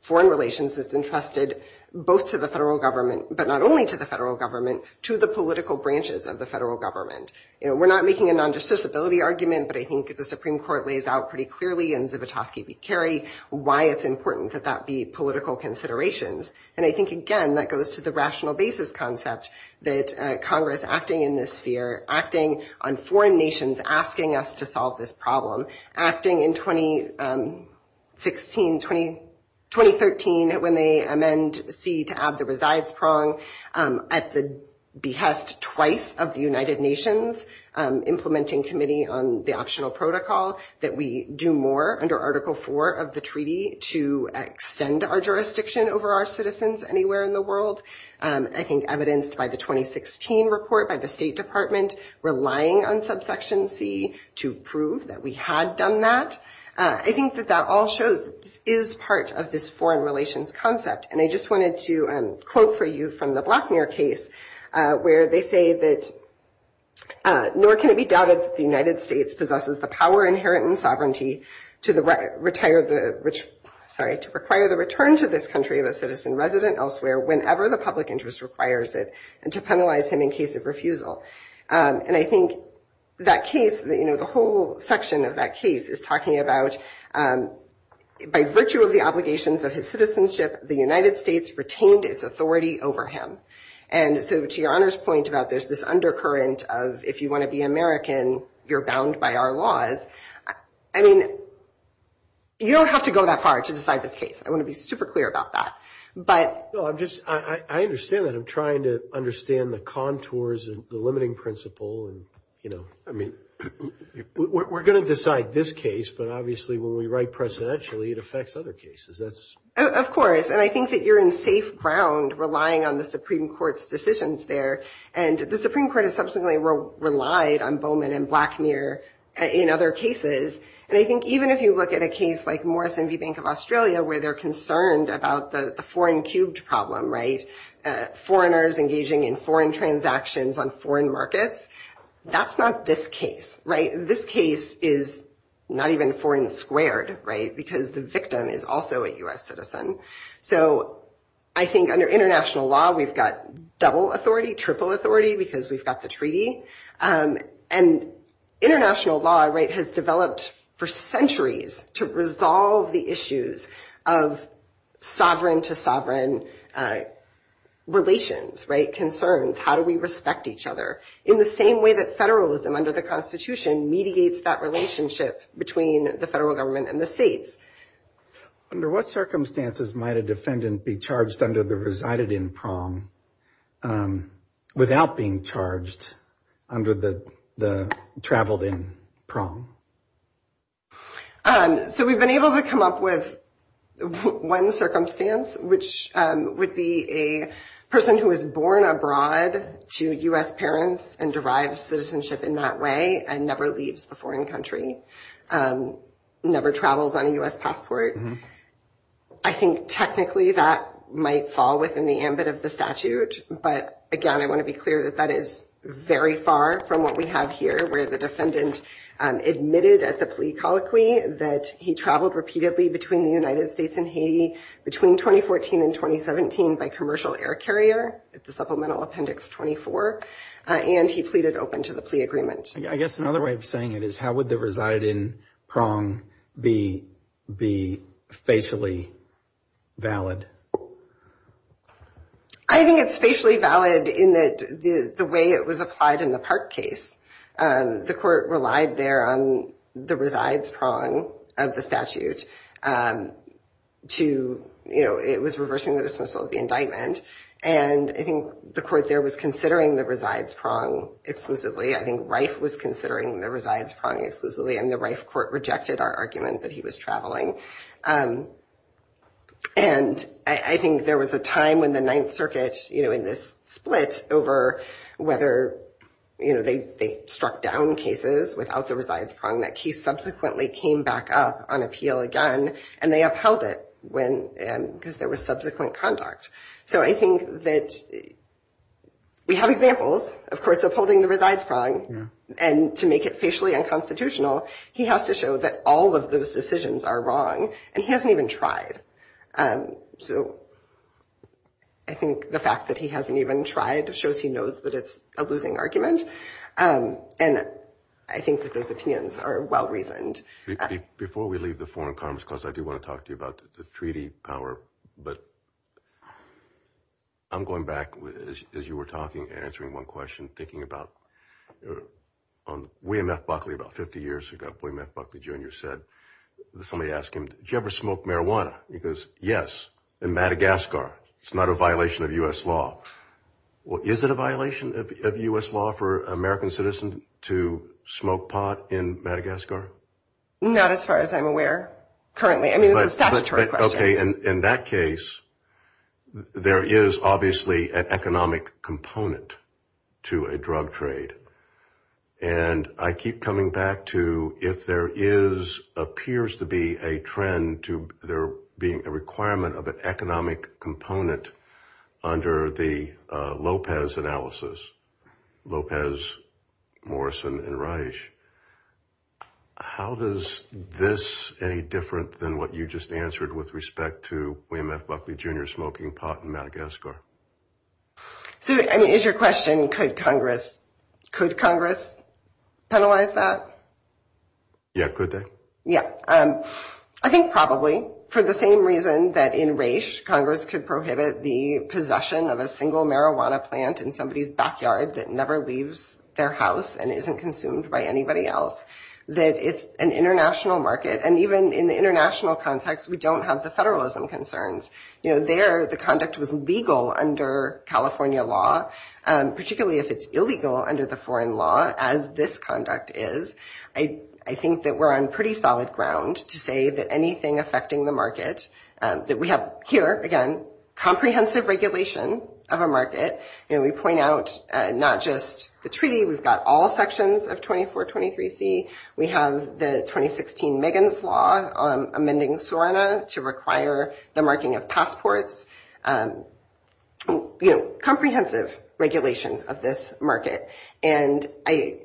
foreign relations has been trusted both to the federal government, but not only to the federal government, to the political branches of the federal government. We're not making a non-dissolvability argument, but I think that the Supreme Court lays out pretty clearly in Zivotofsky v. Kerry why it's important that that be political considerations. And I think, again, that goes to the rational basis concept that Congress acting in this sphere, acting on foreign nations asking us to solve this problem, acting in 2016, 2013, when they amend C to add the resides prong at the behest twice of the United Nations Implementing Committee on the Optional Protocol, that we do more under Article 4 of the treaty to extend our jurisdiction over our citizens anywhere in the world. I think evidenced by the 2016 report by the State Department relying on subsection C to prove that we had done that. I think that that all shows is part of this foreign relations concept. And I just wanted to quote for you from the Blackmere case where they say that, nor can it be doubted that the United States possesses the power inherent in sovereignty to require the return to this country of a citizen resident elsewhere whenever the public interest requires it and to penalize him in case of refusal. And I think that case, the whole section of that case is talking about by virtue of the obligations of his citizenship, the United States retained its authority over him. And so to your Honor's point about there's this undercurrent of, if you want to be American, you're bound by our laws. I mean, you don't have to go that far to decide this case. I want to be super clear about that. But I'm just, I understand that I'm trying to understand the contours and the limiting principle and, you know, I mean, we're going to decide this case. But obviously, when we write presidentially, it affects other cases. That's... Of course. And I think that you're in safe ground relying on the Supreme Court's decisions there. And the Supreme Court has substantially relied on Bowman and Blackmere in other cases. And I think even if you look at a case like Morrison v. Bank of Australia, where they're concerned about the foreign cubed problem, right? Foreigners engaging in foreign transactions on foreign markets. That's not this case, right? This case is not even foreign squared, right? Because the victim is also a U.S. citizen. So I think under international law, we've got double authority, triple authority, because we've got the treaty. And international law, right, has developed for centuries to resolve the issues of sovereign to sovereign relations, right? Concerns. How do we respect each other? In the same way that federalism under the Constitution mediates that relationship between the federal government and the states. Under what circumstances might a defendant be charged under the resided-in prong without being charged under the traveled-in prong? So we've been able to come up with one circumstance, which would be a person who was born abroad to U.S. parents and derives citizenship in that way and never leaves a foreign country, never travels on a U.S. passport. I think technically that might fall within the ambit of the statute. But again, I want to be clear that that is very far from what we have here, where the defendant admitted at the plea colloquy that he traveled repeatedly between the United States and Haiti between 2014 and 2017 by commercial air carrier. It's the Supplemental Appendix 24. And he pleaded open to the plea agreement. I guess another way of saying it is how would the reside-in prong be facially valid? I think it's facially valid in the way it was applied in the Park case. The court relied there on the resides prong of the statute and it was reversing the dismissal of the indictment. And I think the court there was considering the resides prong exclusively. I think Reif was considering the resides prong exclusively and the Reif court rejected our argument that he was traveling. And I think there was a time when the Ninth Circuit in this split over whether they struck down cases without the resides prong that he subsequently came back up on appeal again and they upheld it because there was subsequent conduct. So I think that we have examples of courts upholding the resides prong and to make it facially unconstitutional, he has to show that all of those decisions are wrong and he hasn't even tried. So I think the fact that he hasn't even tried shows he knows that it's a losing argument. And I think that those opinions are well-reasoned. Before we leave the forum of Congress, because I do want to talk to you about the treaty power, but I'm going back as you were talking, answering one question, thinking about William F. Buckley about 50 years ago. William F. Buckley Jr. said, somebody asked him, did you ever smoke marijuana? He goes, yes, in Madagascar. It's not a violation of U.S. law. Well, is it a violation of U.S. law for American citizens to smoke pot in Madagascar? Not as far as I'm aware, currently. I mean, it's a statutory question. Okay. And in that case, there is obviously an economic component to a drug trade. And I keep coming back to if there is, appears to be a trend to there being a requirement of an economic component under the Lopez analysis, Lopez, Morrison, and Reich. How does this any different than what you just answered with respect to William F. Buckley Jr. smoking pot in Madagascar? So, I mean, is your question, could Congress penalize that? Yeah, could they? Yeah. I think probably. For the same reason that in Reich, Congress could prohibit the possession of a single marijuana plant in somebody's backyard that never leaves their house and isn't consumed by anybody else, that it's an international market. And even in the international context, we don't have the federalism concerns. There, the conduct was legal under California law, particularly if it's illegal under the foreign law, as this conduct is. I think that we're on pretty solid ground to say that anything affecting the market, that we have here, again, comprehensive regulation of a market. And we point out not just the treaty, we've got all sections of 2423C. We have the 2016 Megan's Law amending SORNA to require the marking of passports. Comprehensive regulation of this market. And I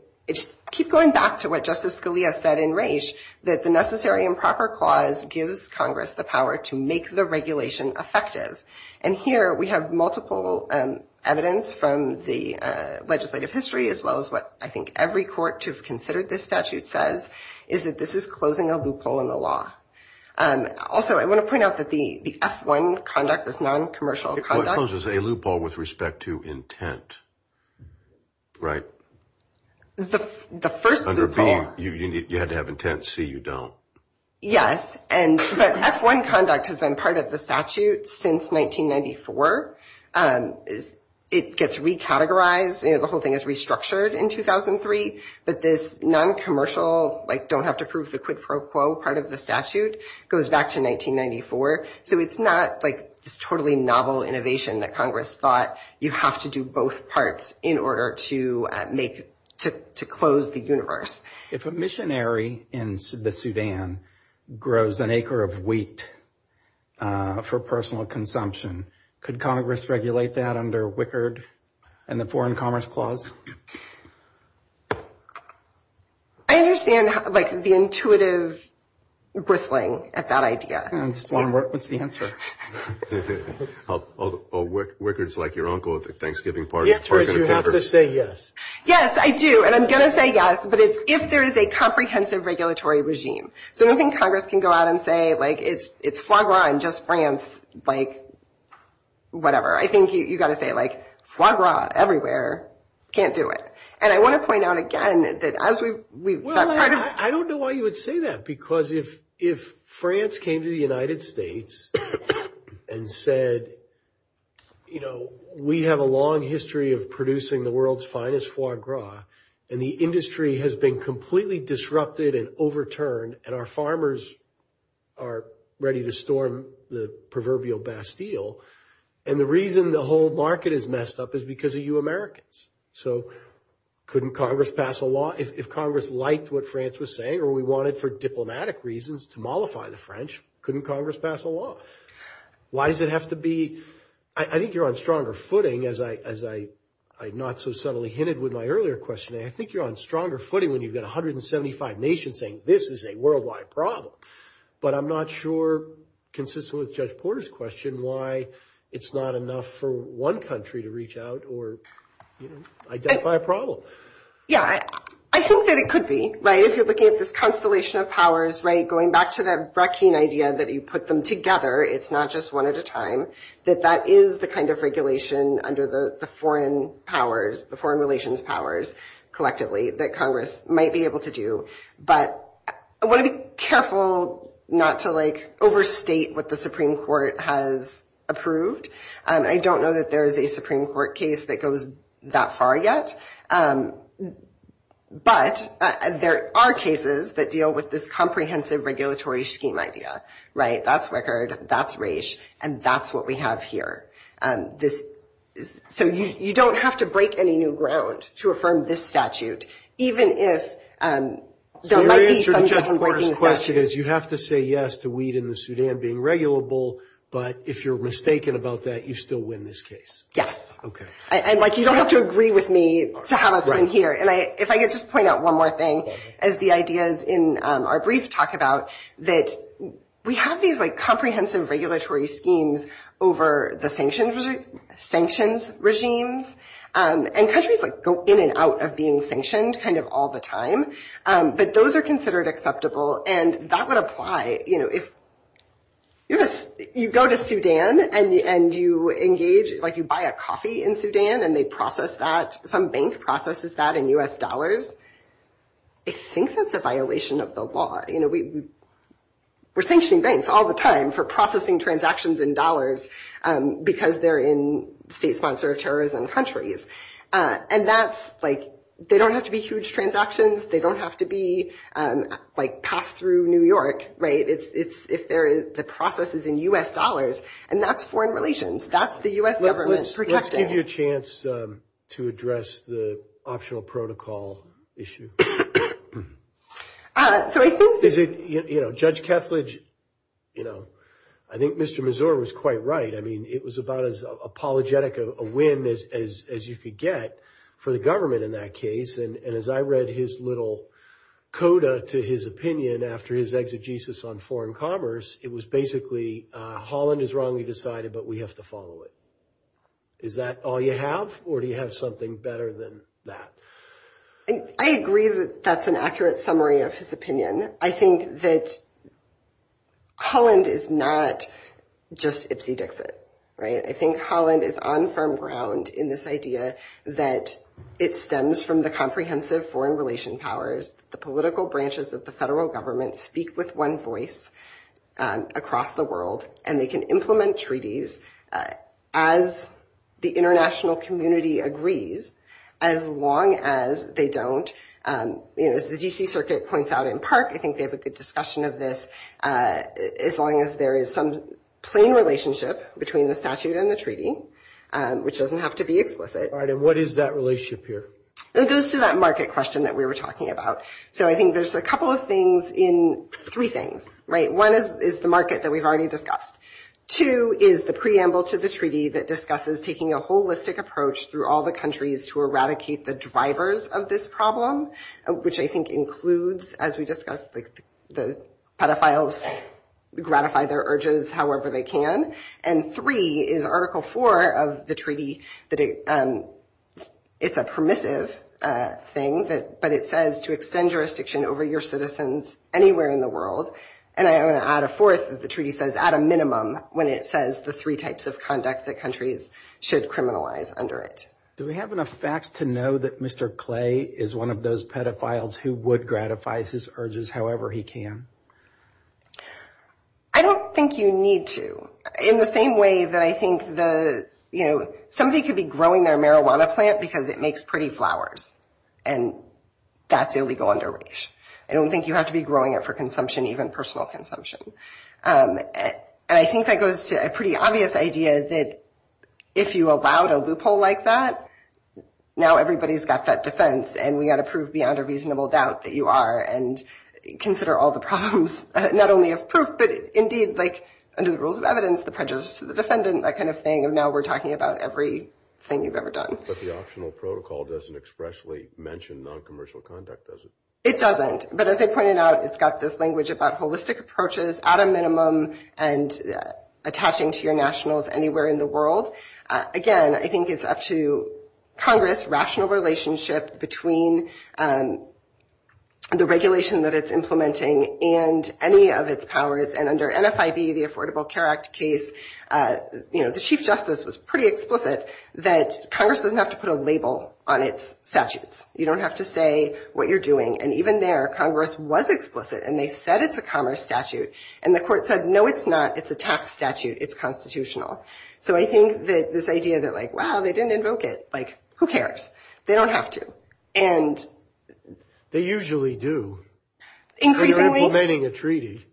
keep going back to what Justice Scalia said in Reich, that the necessary and proper clause gives Congress the power to make the regulation effective. And here we have multiple evidence from the legislative history, as well as what I think every court to have considered this statute says, is that this is closing a loophole in the law. Also, I want to point out that the F-1 conduct, this non-commercial conduct- Closes a loophole with respect to intent. Right. The first loophole- You had to have intent, see you don't. Yes. And F-1 conduct has been part of the statute since 1994. It gets recategorized. The whole thing is restructured in 2003. But this non-commercial, like don't have to prove the quid pro quo part of the statute, goes back to 1994. So it's not like this totally novel innovation that Congress thought, you have to do both parts in order to close the universe. If a missionary in the Sudan grows an acre of wheat for personal consumption, could Congress regulate that under Wickard and the Foreign Commerce Clause? I understand the intuitive bristling at that idea. I just want to work with the answer. Well, Wickard's like your uncle at the Thanksgiving party. Yes, you have to say yes. Yes, I do. And I'm going to say yes, but it's if there is a comprehensive regulatory regime. The only thing Congress can go out and say, like, it's foie gras in just France, like, whatever. I think you've got to say, like, foie gras everywhere, can't do it. And I want to point out again that as we- Well, I don't know why you would say that, because if France came to the United States, and said, you know, we have a long history of producing the world's finest foie gras, and the industry has been completely disrupted and overturned, and our farmers are ready to storm the proverbial Bastille, and the reason the whole market is messed up is because of you Americans. So couldn't Congress pass a law if Congress liked what France was saying, or we wanted for diplomatic reasons to mollify the French? Couldn't Congress pass a law? Why does it have to be- I think you're on stronger footing, as I not so subtly hinted with my earlier question. I think you're on stronger footing when you've got 175 nations saying, this is a worldwide problem. But I'm not sure, consistent with Judge Porter's question, why it's not enough for one country to reach out or, you know, identify a problem. Yeah, I think that it could be, right? If you're looking at this constellation of powers, right, going back to that Breckian idea that you put them together, it's not just one at a time, that that is the kind of regulation under the foreign powers, the foreign relations powers, collectively, that Congress might be able to do. But I want to be careful not to, like, overstate what the Supreme Court has approved. I don't know that there is a Supreme Court case that goes that far yet. But there are cases that deal with this comprehensive regulatory scheme idea, right? That's record, that's race, and that's what we have here. So you don't have to break any new ground to affirm this statute, even if there might be some- The answer to Judge Porter's question is, you have to say yes to weed in the Sudan being regulable, but if you're mistaken about that, you still win this case. Yes. Okay. You don't have to agree with me to have a win here. And if I could just point out one more thing, as the ideas in our brief talk about, that we have these comprehensive regulatory schemes over the sanctions regimes, and countries go in and out of being sanctioned kind of all the time, but those are considered acceptable. And that would apply, you know, if you go to Sudan and you engage, like you buy a coffee in Sudan and they process that, some bank processes that in U.S. dollars, I think that's a violation of the law. You know, we're sanctioning banks all the time for processing transactions in dollars because they're in state-sponsored terrorism countries. And that's, like, they don't have to be huge transactions. They don't have to be, like, passed through New York, right? If the process is in U.S. dollars, and that's foreign relations. That's the U.S. government's protection. Let's give you a chance to address the optional protocol issue. Judge Keflage, you know, I think Mr. Mazur was quite right. I mean, it was about as apologetic a win as you could get for the government in that case. And as I read his little coda to his opinion after his exegesis on foreign commerce, it was basically, Holland is wrongly decided, but we have to follow it. Is that all you have, or do you have something better than that? I agree that that's an accurate summary of his opinion. I think that Holland is not just Ipsy Dixit, right? I think Holland is on firm ground in this idea that it stems from the comprehensive foreign relation powers, the political branches of the federal government speak with one voice, across the world, and they can implement treaties as the international community agrees, as long as they don't, you know, as the D.C. Circuit points out in PARC, I think they have a good discussion of this, as long as there is some plain relationship between the statute and the treaty, which doesn't have to be explicit. Right, and what is that relationship here? It goes to that market question that we were talking about. So I think there's a couple of things in, three things, right? One is the market that we've already discussed. Two is the preamble to the treaty that discusses taking a holistic approach through all the countries to eradicate the drivers of this problem, which I think includes, as we discussed, the pedophiles gratify their urges however they can. And three is Article 4 of the treaty, that it's a permissive thing, but it says to extend jurisdiction over your citizens anywhere in the world. And I'm going to add a fourth, as the treaty says, at a minimum when it says the three types of conduct that countries should criminalize under it. Do we have enough facts to know that Mr. Clay is one of those pedophiles who would gratify his urges however he can? I don't think you need to. In the same way that I think the, you know, somebody could be growing their marijuana plant because it makes pretty flowers, and that's illegal under race. I don't think you have to be growing it for consumption, even personal consumption. And I think that goes to a pretty obvious idea that if you allowed a loophole like that, now everybody's got that defense and we got to prove beyond a reasonable doubt that you are and consider all the problems, not only of proof, but indeed, like, under the rules of evidence, the prejudice to the defendant, that kind of thing, and now we're talking about everything you've ever done. But the optional protocol doesn't expressly mention non-commercial conduct, does it? It doesn't. But as I pointed out, it's got this language about holistic approaches at a minimum and attaching to your nationals anywhere in the world. Again, I think it's up to Congress' rational relationship between the regulation that it's implementing and any of its powers. And under NFIB, the Affordable Care Act case, you know, the Chief Justice was pretty explicit that Congress doesn't have to put a label on its statutes. You don't have to say what you're doing. And even there, Congress was explicit. And they said it's a Congress statute. And the court said, no, it's not. It's a tax statute. It's constitutional. So I think that this idea that, like, wow, they didn't invoke it. Like, who cares? They don't have to. They usually do when you're implementing a treaty.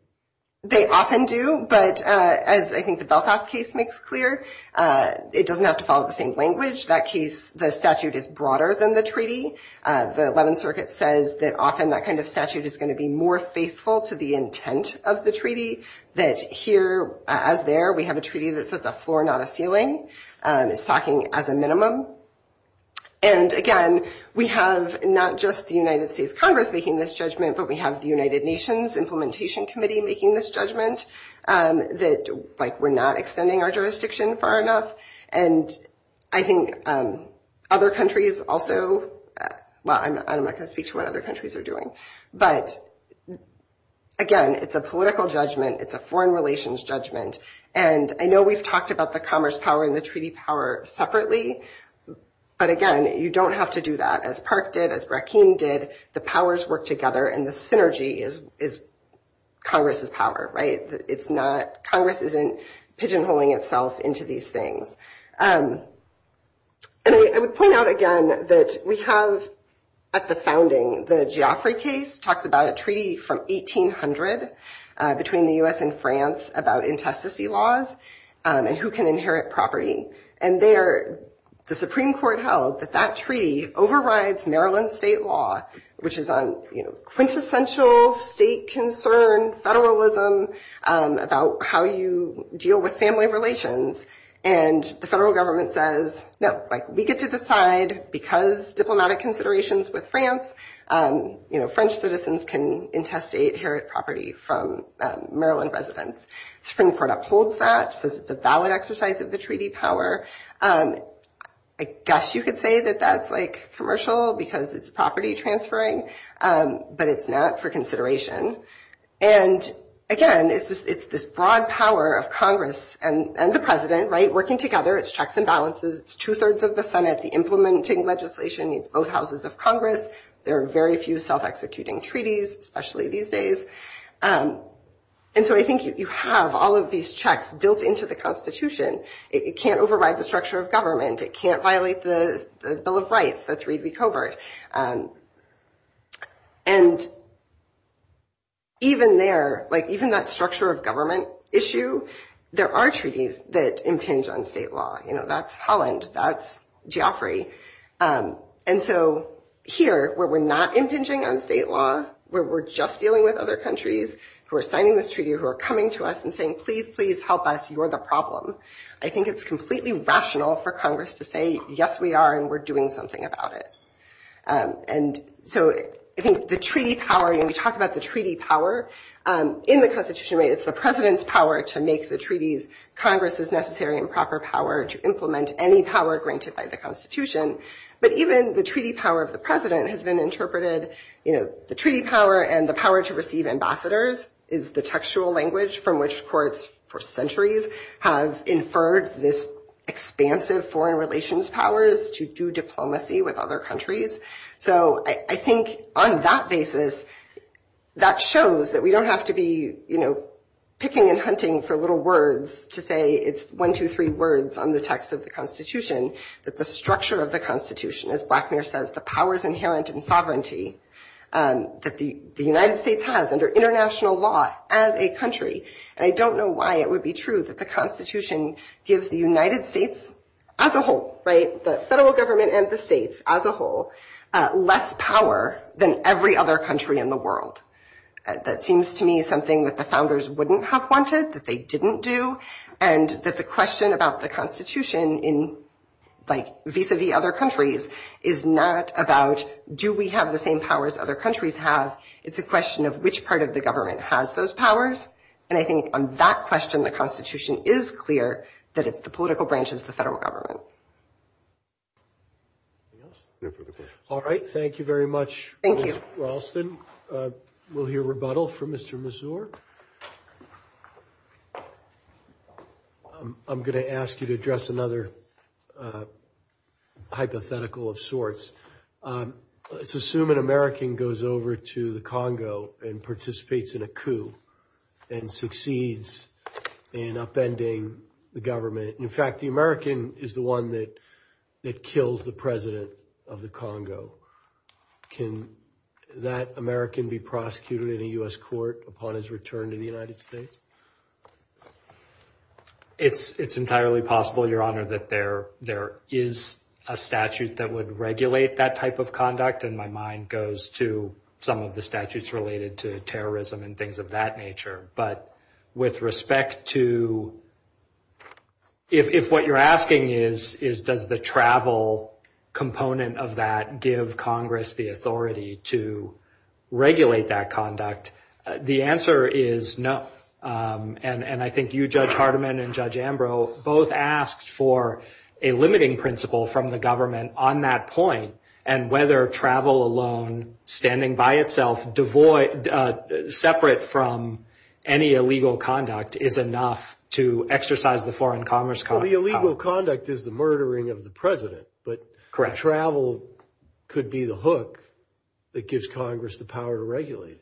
They often do. But as I think the Belfast case makes clear, it doesn't have to follow the same language. That case, the statute is broader than the treaty. The Eleventh Circuit says that often that kind of statute is going to be more faithful to the intent of the treaty. That here, as there, we have a treaty that says a floor, not a ceiling. It's talking as a minimum. And again, we have not just the United States Congress making this judgment, but we have the United Nations Implementation Committee making this judgment that, like, we're not extending our jurisdiction far enough. And I think other countries also, well, I'm not going to speak to what other countries are doing. But again, it's a political judgment. It's a foreign relations judgment. And I know we've talked about the commerce power and the treaty power separately. But again, you don't have to do that. As Park did, as Brackeen did, the powers work together. And the synergy is Congress's power, right? Congress isn't pigeonholing itself into these things. And I would point out again that we have at the founding, the Geoffrey case talked about a treaty from 1800 between the U.S. and France about infestacy laws and who can inherit property. And there, the Supreme Court held that that treaty overrides Maryland state law, which is on quintessential state concern, federalism, about how you deal with family relations. And the federal government says, no, we get to decide because diplomatic considerations with France, French citizens can infestate, inherit property from Maryland residents. Supreme Court upholds that, says it's a valid exercise of the treaty power. I guess you could say that that's commercial because it's property transferring, but it's not for consideration. And again, it's this broad power of Congress and the president working together. It's checks and balances. It's two-thirds of the Senate. The implementing legislation needs both houses of Congress. There are very few self-executing treaties, especially these days. And so I think you have all of these checks built into the Constitution. It can't override the structure of government. It can't violate the Bill of Rights. That's really covert. And even there, like even that structure of government issue, there are treaties that impinge on state law. You know, that's Holland. That's Geoffrey. And so here, where we're not impinging on state law, where we're just dealing with other countries who are signing this treaty, who are coming to us and saying, please, please help us, you're the problem. I think it's completely rational for Congress to say, yes, we are, and we're doing something about it. And so I think the treaty power, when we talk about the treaty power, in the Constitution, it's the president's power to make the treaties. Congress is necessary and proper power to implement any power granted by the Constitution. But even the treaty power of the president has been interpreted, you know, the treaty power and the power to receive ambassadors is the textual language from which courts for centuries have inferred this expansive foreign relations powers to do diplomacy with other countries. So I think on that basis, that shows that we don't have to be, you know, picking and hunting for little words to say it's one, two, three words on the text of the Constitution, that the structure of the Constitution, as Blackmere says, the powers inherent in sovereignty And I don't know why it would be true that the Constitution gives the United States as a whole, right, the federal government and the states as a whole, less power than every other country in the world. That seems to me something that the founders wouldn't have wanted that they didn't do. And that the question about the Constitution in like vis-a-vis other countries is not about do we have the same powers other countries have? It's a question of which part of the government has those powers. And I think on that question, the Constitution is clear that it's the political branches of the federal government. All right. Thank you very much. Thank you. We'll hear rebuttal from Mr. Mazur. I'm going to ask you to address another hypothetical of sorts. Let's assume an American goes over to the Congo and participates in a coup and succeeds in upending the government. In fact, the American is the one that kills the president of the Congo. Can that American be prosecuted in a U.S. court upon his return to the United States? It's entirely possible, Your Honor, that there is a statute that would regulate that type of conduct. And my mind goes to some of the statutes related to terrorism and things of that nature. But with respect to if what you're asking is does the travel component of that give Congress the authority to regulate that conduct? The answer is no. And I think you, Judge Hardiman and Judge Ambrose both asked for a limiting principle from the government on that point. And whether travel alone, standing by itself, separate from any illegal conduct is enough to exercise the foreign commerce. The illegal conduct is the murdering of the president. But travel could be the hook that gives Congress the power to regulate it.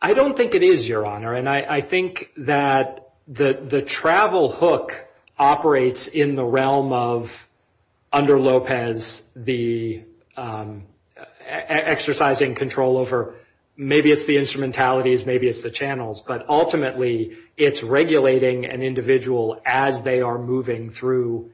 I don't think it is, Your Honor. I think that the travel hook operates in the realm of under Lopez the exercising control over maybe it's the instrumentalities, maybe it's the channels. But ultimately, it's regulating an individual as they are moving through,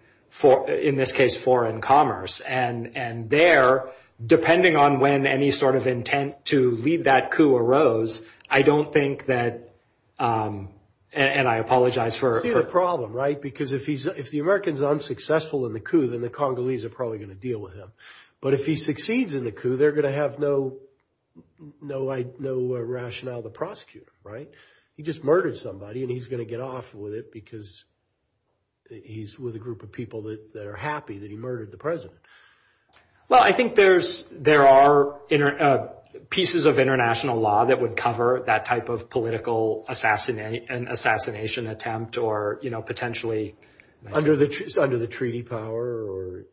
in this case, foreign commerce. And there, depending on when any sort of intent to lead that coup arose, I don't think that Congress would have the authority to regulate that. And I apologize for- You see the problem, right? Because if the American's unsuccessful in the coup, then the Congolese are probably going to deal with him. But if he succeeds in the coup, they're going to have no rationale to prosecute him, right? He just murdered somebody, and he's going to get off with it because he's with a group of people that are happy that he murdered the president. Well, I think there are pieces of international law that would cover that type of political and assassination attempt or potentially under the treaty power.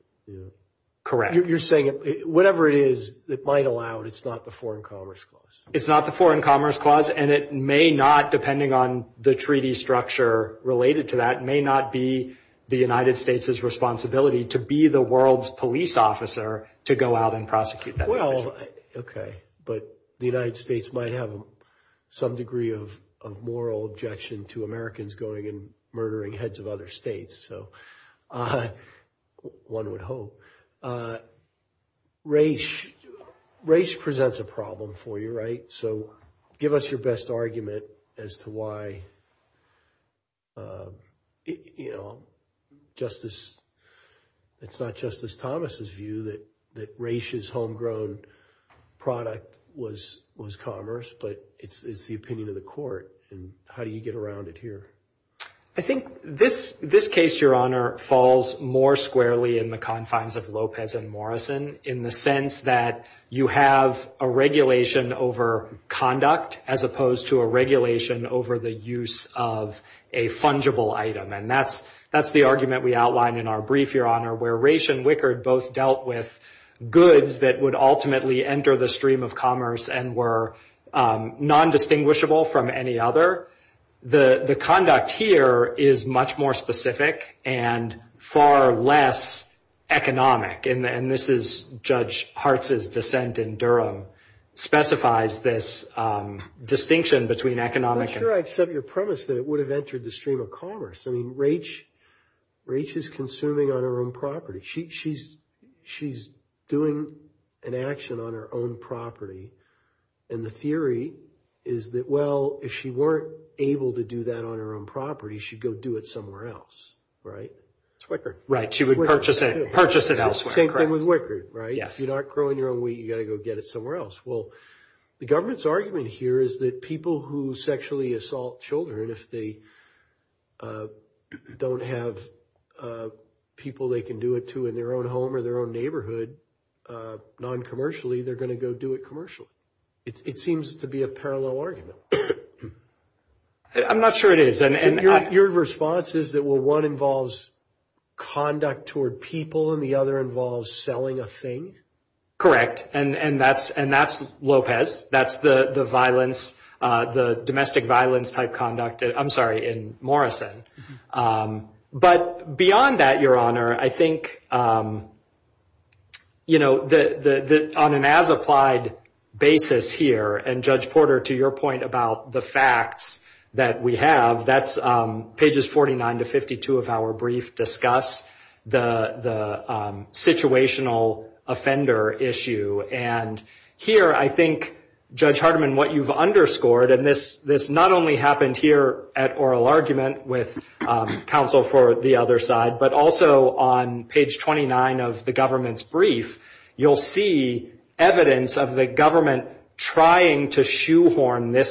Correct. You're saying whatever it is, it might allow it's not the foreign commerce clause. It's not the foreign commerce clause. And it may not, depending on the treaty structure related to that, may not be the United States' responsibility to be the world's police officer to go out and prosecute that person. Well, okay. But the United States might have some degree of moral objection to Americans going and murdering heads of other states. So one would hope. Race presents a problem for you, right? Give us your best argument as to why it's not Justice Thomas' view that race's homegrown product was commerce, but it's the opinion of the court. And how do you get around it here? I think this case, Your Honor, falls more squarely in the confines of Lopez and Morrison in the sense that you have a regulation over conduct as opposed to a regulation over the use of a fungible item. And that's the argument we outlined in our brief, Your Honor, where Race and Wickard both dealt with goods that would ultimately enter the stream of commerce and were non-distinguishable from any other. The conduct here is much more specific and far less economic. And this is Judge Hartz's dissent in Durham, specifies this distinction between economic and... I'm sure I accept your premise that it would have entered the stream of commerce. I mean, Race is consuming on her own property. She's doing an action on her own property. And the theory is that, well, if she weren't able to do that on her own property, she'd go do it somewhere else, right? It's Wickard. Right, she would purchase it elsewhere. Same thing with Wickard, right? If you're not growing your own wheat, you've got to go get it somewhere else. Well, the government's argument here is that people who sexually assault children, if they don't have people they can do it to in their own home or their own neighborhood, non-commercially, they're going to go do it commercially. It seems to be a parallel argument. I'm not sure it is. Your response is that, well, one involves conduct toward people and the other involves selling a thing? Correct. And that's Lopez. That's the domestic violence-type conduct, I'm sorry, in Morrison. But beyond that, Your Honor, I think on an as-applied basis here, and Judge Porter, to your point about the facts that we have, that's pages 49 to 52 of our brief discuss the situational offender issue. And here, I think, Judge Hardiman, what you've underscored, and this not only happened here at oral argument with counsel for the other side, but also on page 29 of the government's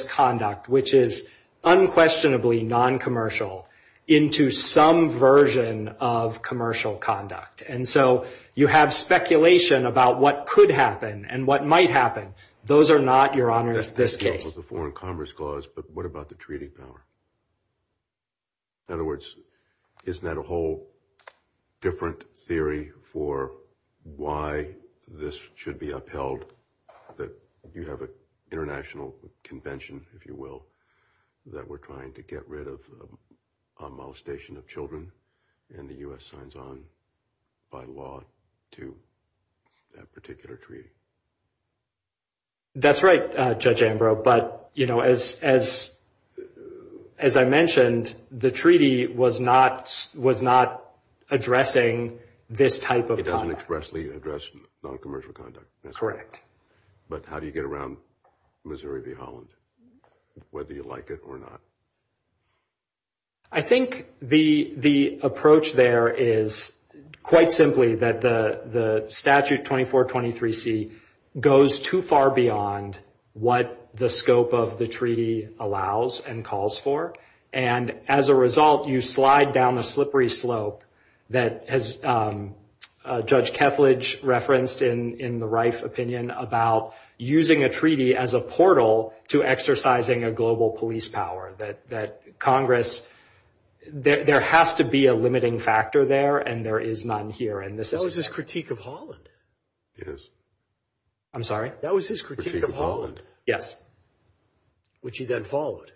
conduct, which is unquestionably non-commercial into some version of commercial conduct. And so you have speculation about what could happen and what might happen. Those are not, Your Honor, in this case. That's the foreign commerce clause, but what about the treaty power? In other words, isn't that a whole different theory for why this should be upheld, that you have an international convention, if you will, that we're trying to get rid of a molestation of children, and the U.S. signs on by law to that particular treaty? That's right, Judge Ambrose. But as I mentioned, the treaty was not addressing this type of conduct. It doesn't expressly address non-commercial conduct. Correct. But how do you get around Missouri v. Holland, whether you like it or not? I think the approach there is, quite simply, that the statute 2423C goes too far beyond what the scope of the treaty allows and calls for. And as a result, you slide down the slippery slope that, as Judge Keflage referenced in the Reif opinion, about using a treaty as a portal to exercising a global police power. There has to be a limiting factor there, and there is none here. That was his critique of Holland. Yes. I'm sorry? That was his critique of Holland. Yes. Which he then followed.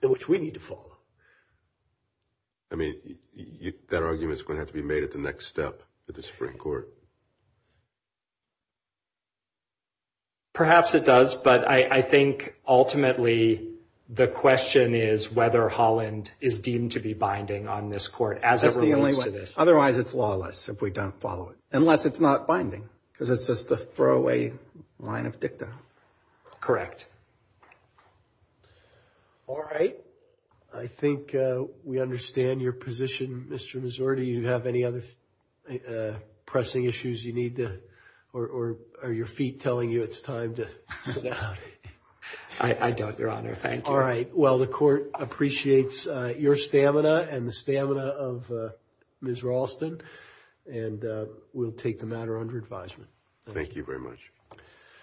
Which we need to follow. I mean, that argument's going to have to be made at the next step with the Supreme Court. Perhaps it does, but I think, ultimately, the question is whether Holland is deemed to be binding on this court, as it relates to this. Otherwise, it's lawless if we don't follow it. Unless it's not binding, because it's just a throwaway line of dictum. Correct. All right. I think we understand your position, Mr. Mazur. Do you have any other pressing issues you need to, or are your feet telling you it's time to? I don't, Your Honor. Thank you. All right. Well, the court appreciates your stamina and the stamina of Ms. Ralston, and we'll take the matter under advisement. Thank you very much.